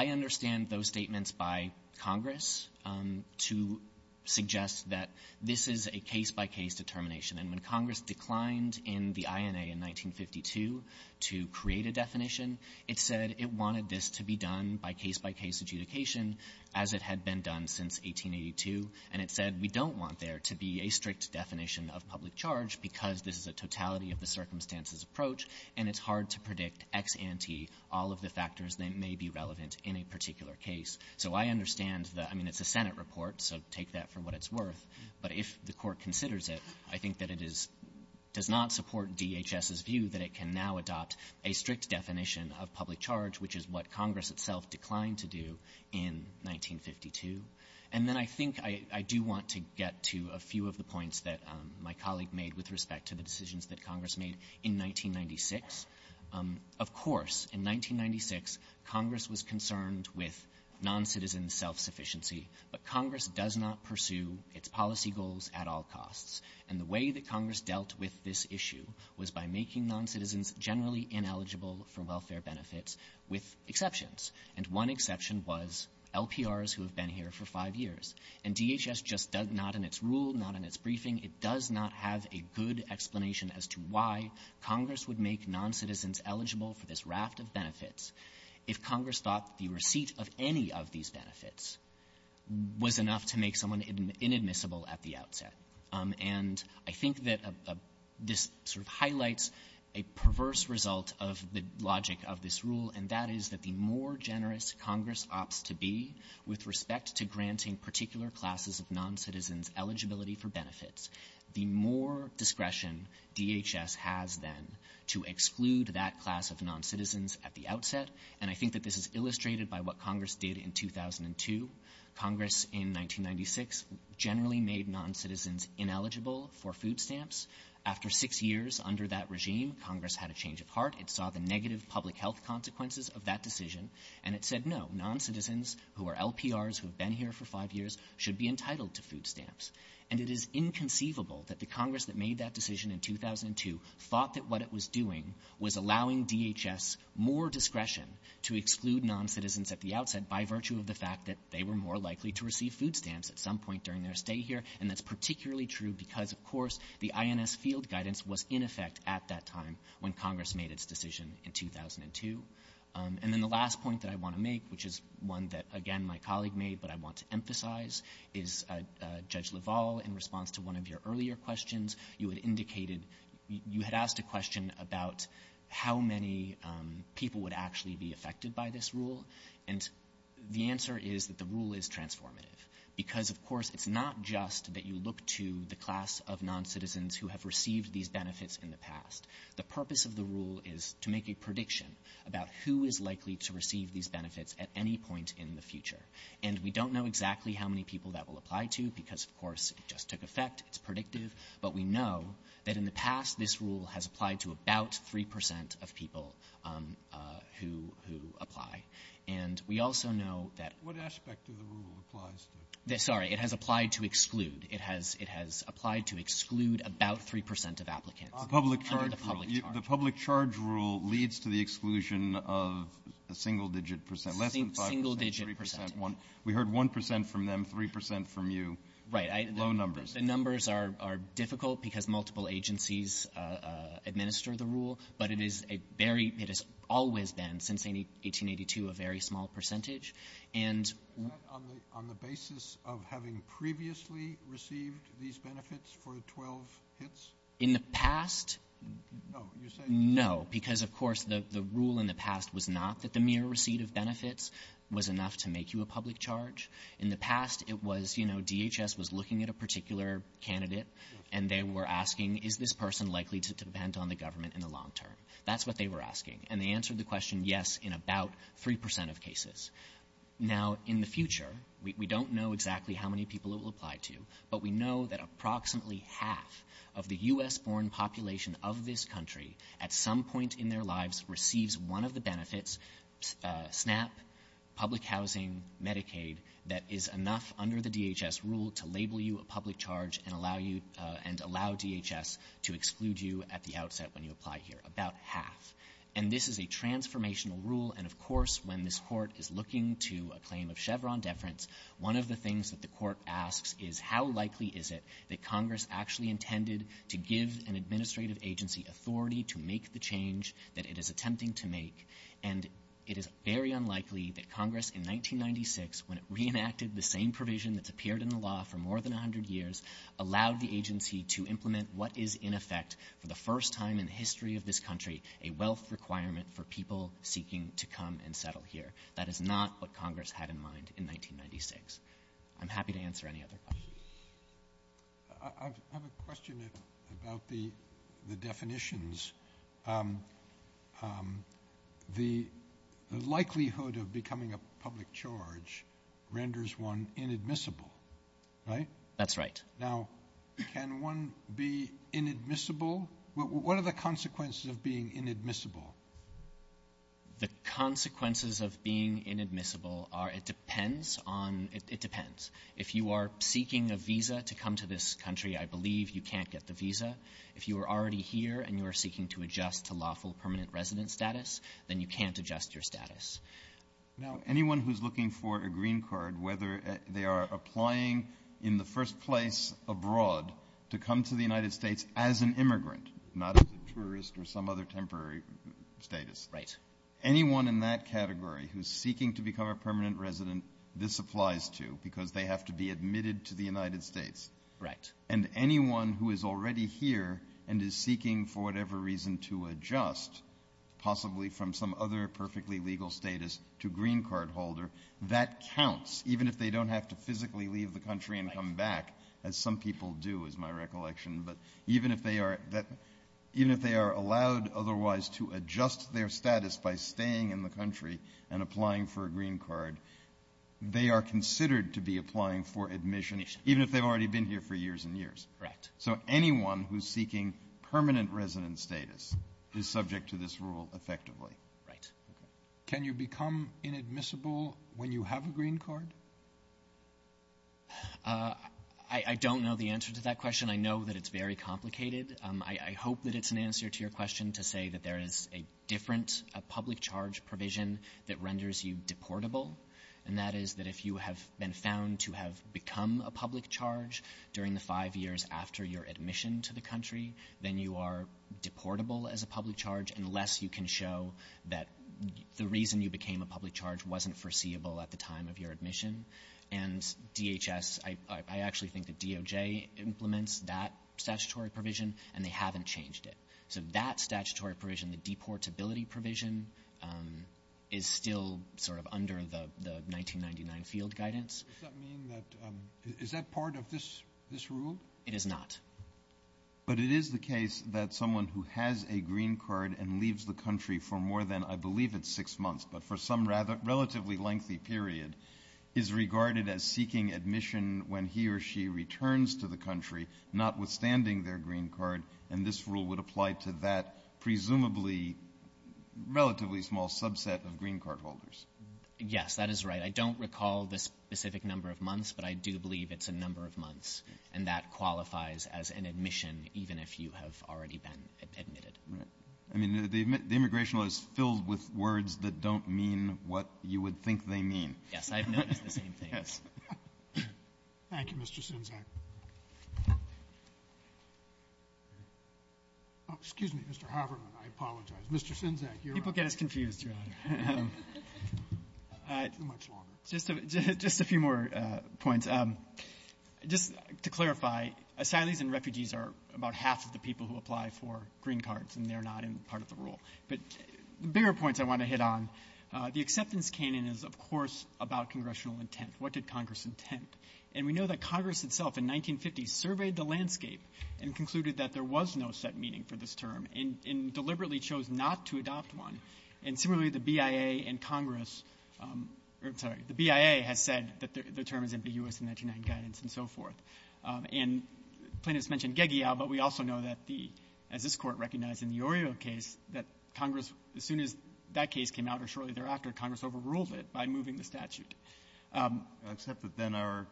understand those statements by Congress to suggest that this is a case-by-case determination. And when Congress declined in the INA in 1952 to create a definition, it said it wanted this to be done by case-by-case adjudication as it had been done since 1882, and it said we don't want there to be a strict definition of public charge because this is a totality-of-the-circumstances approach, and it's hard to predict ex ante all of the factors that may be relevant in a particular case. So I understand that. I mean, it's a Senate report, so take that for what it's worth. But if the court considers it, I think that it does not support DHS's view that it can now adopt a strict definition of public charge, which is what Congress itself declined to do in 1952. And then I think I do want to get to a few of the points that my colleague made with respect to the decisions that Congress made in 1996. Of course, in 1996, Congress was concerned with noncitizen self-sufficiency, but Congress does not pursue its policy goals at all costs. And the way that Congress dealt with this issue was by making noncitizens generally ineligible for welfare benefits with exceptions, and one exception was LPRs who have been here for five years. And DHS just does not in its rule, not in its briefing, it does not have a good explanation as to why Congress would make noncitizens eligible for this raft of benefits if Congress thought the receipt of any of these benefits was enough to make someone inadmissible at the outset. And I think that this sort of highlights a perverse result of the logic of this rule, and that is that the more generous Congress opts to be with respect to granting the more discretion DHS has then to exclude that class of noncitizens at the outset, and I think that this is illustrated by what Congress did in 2002. Congress in 1996 generally made noncitizens ineligible for food stamps. After six years under that regime, Congress had a change of heart. It saw the negative public health consequences of that decision, and it said, no, noncitizens who are LPRs who have been here for five years should be entitled to food stamps. And it is inconceivable that the Congress that made that decision in 2002 thought that what it was doing was allowing DHS more discretion to exclude noncitizens at the outset by virtue of the fact that they were more likely to receive food stamps at some point during their stay here, and that's particularly true because, of course, the INS field guidance was in effect at that time when Congress made its decision in 2002. And then the last point that I want to make, which is one that, again, my colleague made but I want to emphasize, is Judge LaValle, in response to one of your earlier questions, you had asked a question about how many people would actually be affected by this rule, and the answer is that the rule is transformative because, of course, it's not just that you look to the class of noncitizens who have received these benefits in the past. The purpose of the rule is to make a prediction about who is likely to receive these benefits at any point in the future, and we don't know exactly how many people that will apply to because, of course, it just took effect. It's predictive, but we know that in the past this rule has applied to about 3% of people who apply. And we also know that- What aspect of the rule applies to? Sorry, it has applied to exclude. It has applied to exclude about 3% of applicants. The public charge rule leads to the exclusion of a single-digit percent, less than 5%. Single-digit percent. We heard 1% from them, 3% from you. Right. Low numbers. The numbers are difficult because multiple agencies administer the rule, but it has always been, since 1882, a very small percentage. And- On the basis of having previously received these benefits for the 12 hits? In the past- No, you're saying- No, because, of course, the rule in the past was not that the mere receipt of benefits was enough to make you a public charge. In the past, it was, you know, DHS was looking at a particular candidate, and they were asking, is this person likely to depend on the government in the long term? That's what they were asking, and they answered the question yes in about 3% of cases. Now, in the future, we don't know exactly how many people it will apply to, but we know that approximately half of the U.S.-born population of this country at some point in their lives receives one of the benefits, SNAP, public housing, Medicaid, that is enough under the DHS rule to label you a public charge and allow DHS to exclude you at the outset when you apply here, about half. And this is a transformational rule, and, of course, when this court is looking to a claim of Chevron deference, one of the things that the court asks is, how likely is it that Congress actually intended to give an administrative agency authority to make the change that it is attempting to make? And it is very unlikely that Congress in 1996, when it reenacted the same provision that's appeared in the law for more than 100 years, allowed the agency to implement what is, in effect, for the first time in the history of this country, a wealth requirement for people seeking to come and settle here. That is not what Congress had in mind in 1996. I'm happy to answer any other questions. I have a question about the definitions. The likelihood of becoming a public charge renders one inadmissible, right? That's right. Now, can one be inadmissible? What are the consequences of being inadmissible? The consequences of being inadmissible are it depends on—it depends. If you are seeking a visa to come to this country, I believe you can't get the visa. If you are already here and you are seeking to adjust to lawful permanent resident status, then you can't adjust your status. Now, anyone who is looking for a green card, whether they are applying in the first place abroad to come to the United States as an immigrant, not as a tourist or some other temporary status, anyone in that category who is seeking to become a permanent resident, this applies to because they have to be admitted to the United States. And anyone who is already here and is seeking for whatever reason to adjust, possibly from some other perfectly legal status to green card holder, that counts even if they don't have to physically leave the country and come back, as some people do, is my recollection. But even if they are allowed otherwise to adjust their status by staying in the country and applying for a green card, they are considered to be applying for admission, even if they have already been here for years and years. So anyone who is seeking permanent resident status is subject to this rule effectively. Can you become inadmissible when you have a green card? I don't know the answer to that question. I know that it's very complicated. I hope that it's an answer to your question to say that there is a difference, a public charge provision that renders you deportable, and that is that if you have been found to have become a public charge during the five years after your admission to the country, then you are deportable as a public charge unless you can show that the reason you became a public charge wasn't foreseeable at the time of your admission. And DHS, I actually think that DOJ implements that statutory provision, and they haven't changed it. So that statutory provision, the deportability provision, is still sort of under the 1999 field guidance. Does that mean that, is that part of this rule? It is not. But it is the case that someone who has a green card and leaves the country for more than, I believe it's six months, but for some relatively lengthy period, is regarded as seeking admission when he or she returns to the country, notwithstanding their green card, and this rule would apply to that presumably relatively small subset of green card holders. Yes, that is right. I don't recall the specific number of months, but I do believe it's a number of months, and that qualifies as an admission even if you have already been admitted. I mean, the immigration law is filled with words that don't mean what you would think they mean. Yes, I have noticed the same thing. Thank you, Mr. Sinzak. Oh, excuse me, Mr. Haberman, I apologize. Mr. Sinzak, you're up. People get us confused, John. Just a few more points. Just to clarify, asylees and refugees are about half of the people who apply for green cards, and they're not in part of the rule. But the bigger points I want to hit on, the acceptance canon is, of course, about congressional intent. What did Congress intend? And we know that Congress itself in 1950 surveyed the landscape and concluded that there was no set meaning for this term and deliberately chose not to adopt one. And similarly, the BIA and Congress or, I'm sorry, the BIA have said that the term is in the U.S. and international guidance and so forth. And Plaintiff's mentioned GEGEA, but we also know that the, as this court recognized in the Oreo case, that Congress, as soon as that case came out or shortly thereafter, Congress overruled it by moving the statute. Except that then our,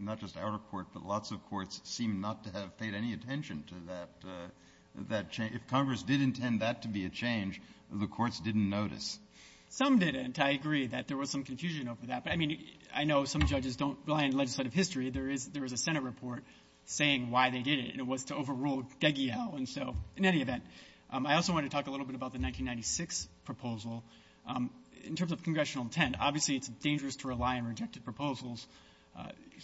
not just our court, but lots of courts seem not to have paid any attention to that change. If Congress did intend that to be a change, the courts didn't notice. Some didn't. I agree that there was some confusion over that. But, I mean, I know some judges don't rely on legislative history. There is a Senate report saying why they did it, and it was to overrule GEGEA. And so, in any event, I also want to talk a little bit about the 1996 proposal. In terms of congressional intent, obviously it's dangerous to rely on rejected proposals.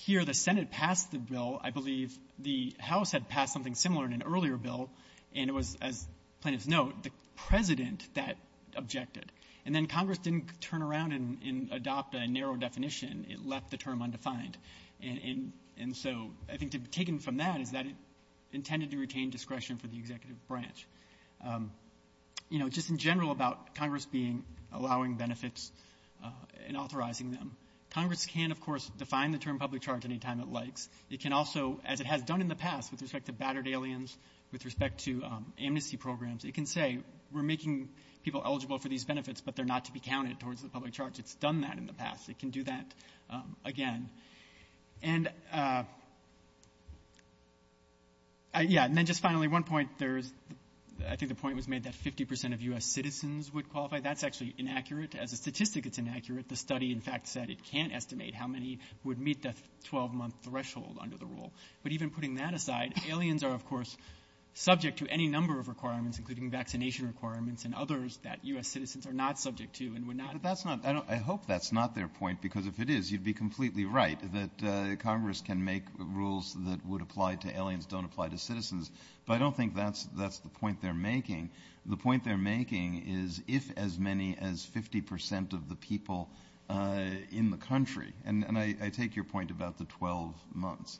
Here the Senate passed the bill. I believe the House had passed something similar in an earlier bill, and it was, as Plaintiff's noted, the president that objected. And then Congress didn't turn around and adopt a narrow definition. It left the term undefined. And so I think taken from that is that it intended to retain discretion for the executive branch. You know, just in general about Congress being, allowing benefits and authorizing them, Congress can, of course, define the term public charge any time it likes. It can also, as it has done in the past with respect to battered aliens, with respect to amnesty programs, it can say we're making people eligible for these benefits, but they're not to be counted towards the public charge. It's done that in the past. It can do that again. And, yeah, and then just finally one point. I think the point was made that 50% of U.S. citizens would qualify. That's actually inaccurate. As a statistic, it's inaccurate. The study, in fact, said it can't estimate how many would meet that 12-month threshold under the rule. But even putting that aside, aliens are, of course, subject to any number of requirements, including vaccination requirements and others that U.S. citizens are not subject to. I hope that's not their point because if it is, you'd be completely right that Congress can make rules that would apply to aliens, don't apply to citizens. But I don't think that's the point they're making. The point they're making is if as many as 50% of the people in the country, and I take your point about the 12 months,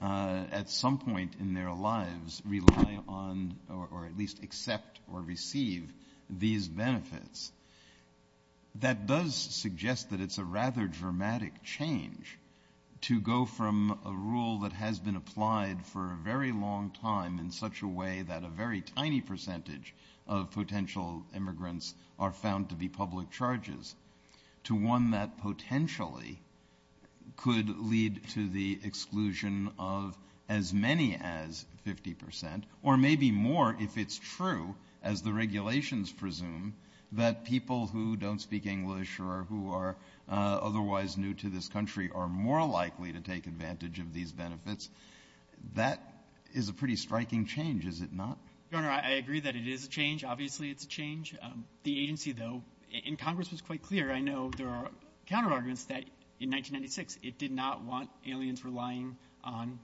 at some point in their lives rely on or at least accept or receive these benefits. That does suggest that it's a rather dramatic change to go from a rule that has been applied for a very long time in such a way that a very tiny percentage of potential immigrants are found to be public charges to one that potentially could lead to the exclusion of as many as 50%, or maybe more if it's true, as the regulations presume, that people who don't speak English or who are otherwise new to this country are more likely to take advantage of these benefits. That is a pretty striking change, is it not? Governor, I agree that it is a change. Obviously, it's a change. The agency, though, and Congress was quite clear. I know there are counterarguments that in 1996 it did not want aliens relying on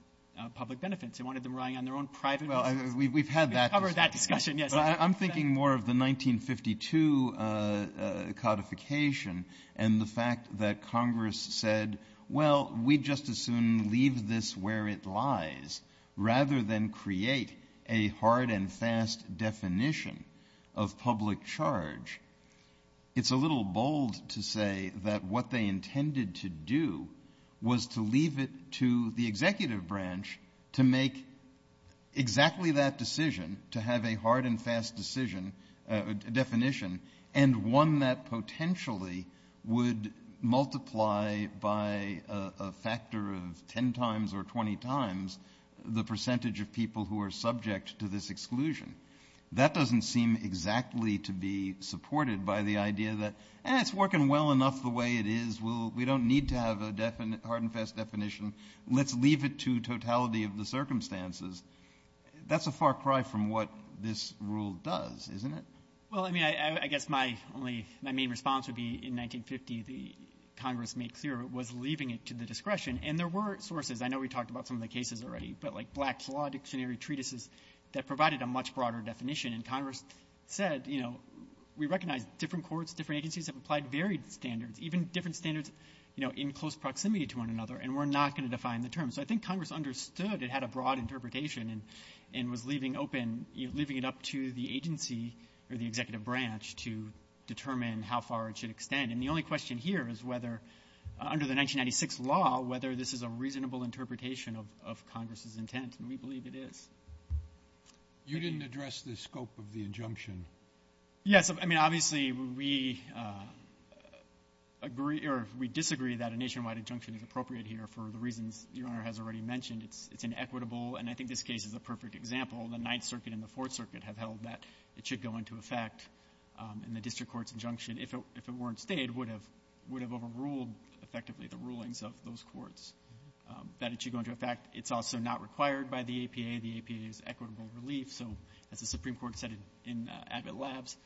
public benefits. It wanted them relying on their own private benefits. We've had that discussion. I'm thinking more of the 1952 codification and the fact that Congress said, well, we'd just as soon leave this where it lies rather than create a hard and fast definition of public charge. It's a little bold to say that what they intended to do was to leave it to the executive branch to make exactly that decision, to have a hard and fast definition, and one that potentially would multiply by a factor of 10 times or 20 times the percentage of people who are subject to this exclusion. That doesn't seem exactly to be supported by the idea that it's working well enough the way it is. We don't need to have a hard and fast definition. Let's leave it to totality of the circumstances. That's a far cry from what this rule does, isn't it? Well, I mean, I guess my main response would be in 1950 the Congress made clear it was leaving it to the discretion. And there were sources. I know we talked about some of the cases already, but like Black's Law Dictionary Treatises that provided a much broader definition. And Congress said, you know, we recognize different courts, different agencies have applied varied standards, even different standards in close proximity to one another, and we're not going to define the terms. So I think Congress understood it had a broad interpretation and was leaving open, leaving it up to the agency or the executive branch to determine how far it should extend. And the only question here is whether, under the 1996 law, whether this is a reasonable interpretation of Congress's intent. And we believe it is. Yes, I mean, obviously we agree or we disagree that a nationwide injunction is appropriate here for the reasons your Honor has already mentioned. It's inequitable, and I think this case is a perfect example. The Ninth Circuit and the Fourth Circuit have held that it should go into effect in the district court's injunction if the warrant stayed it would have overruled effectively the rulings of those courts. That it should go into effect, it's also not required by the APA. The APA is equitable relief. So, as the Supreme Court said in Abbott Labs,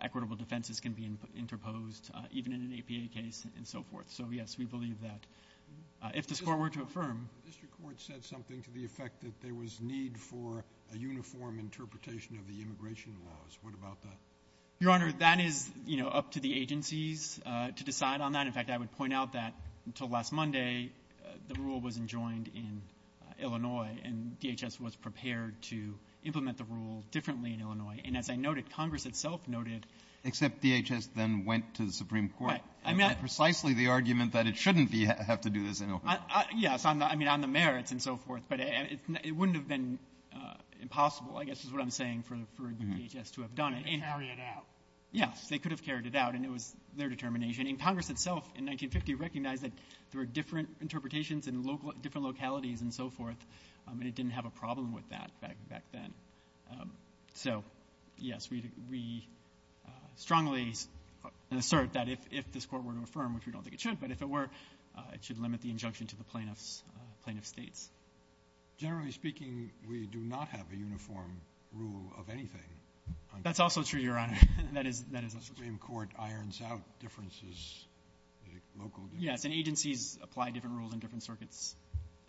equitable defenses can be interposed even in an APA case and so forth. So, yes, we believe that if the score were to affirm. The district court said something to the effect that there was need for a uniform interpretation of the immigration laws. What about that? Your Honor, that is, you know, up to the agencies to decide on that. In fact, I would point out that until last Monday the rule wasn't joined in Illinois and DHS was prepared to implement the rule differently in Illinois. And as I noted, Congress itself noted. Except DHS then went to the Supreme Court. I mean, that's precisely the argument that it shouldn't have to do this in Illinois. Yes, I mean, on the merits and so forth. But it wouldn't have been impossible, I guess is what I'm saying, for DHS to have done it. They carried it out. Yes, they could have carried it out, and it was their determination. And Congress itself in 1950 recognized that there were different interpretations and different localities and so forth, and it didn't have a problem with that back then. So, yes, we strongly assert that if the score were to affirm, which we don't think it should, but if it were, it should limit the injunction to the plaintiff's states. Generally speaking, we do not have a uniform rule of anything. That's also true, Your Honor. The Supreme Court irons out differences. Yes, and agencies apply different rules in different circuits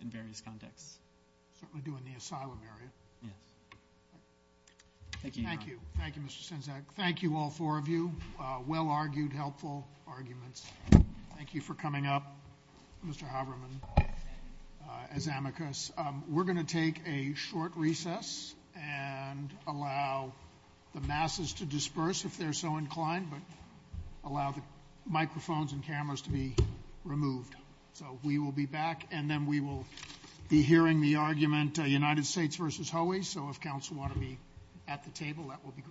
in various contexts. We do in the asylum area. Thank you, Your Honor. Thank you. Thank you, Mr. Senczak. Thank you, all four of you. Well-argued, helpful arguments. Thank you for coming up, Mr. Habermas, as amicus. We're going to take a short recess and allow the masses to disperse if they're so inclined, but allow the microphones and cameras to be removed. So we will be back, and then we will be hearing the argument United States versus Hawaii. So if counsel want to be at the table, that would be great.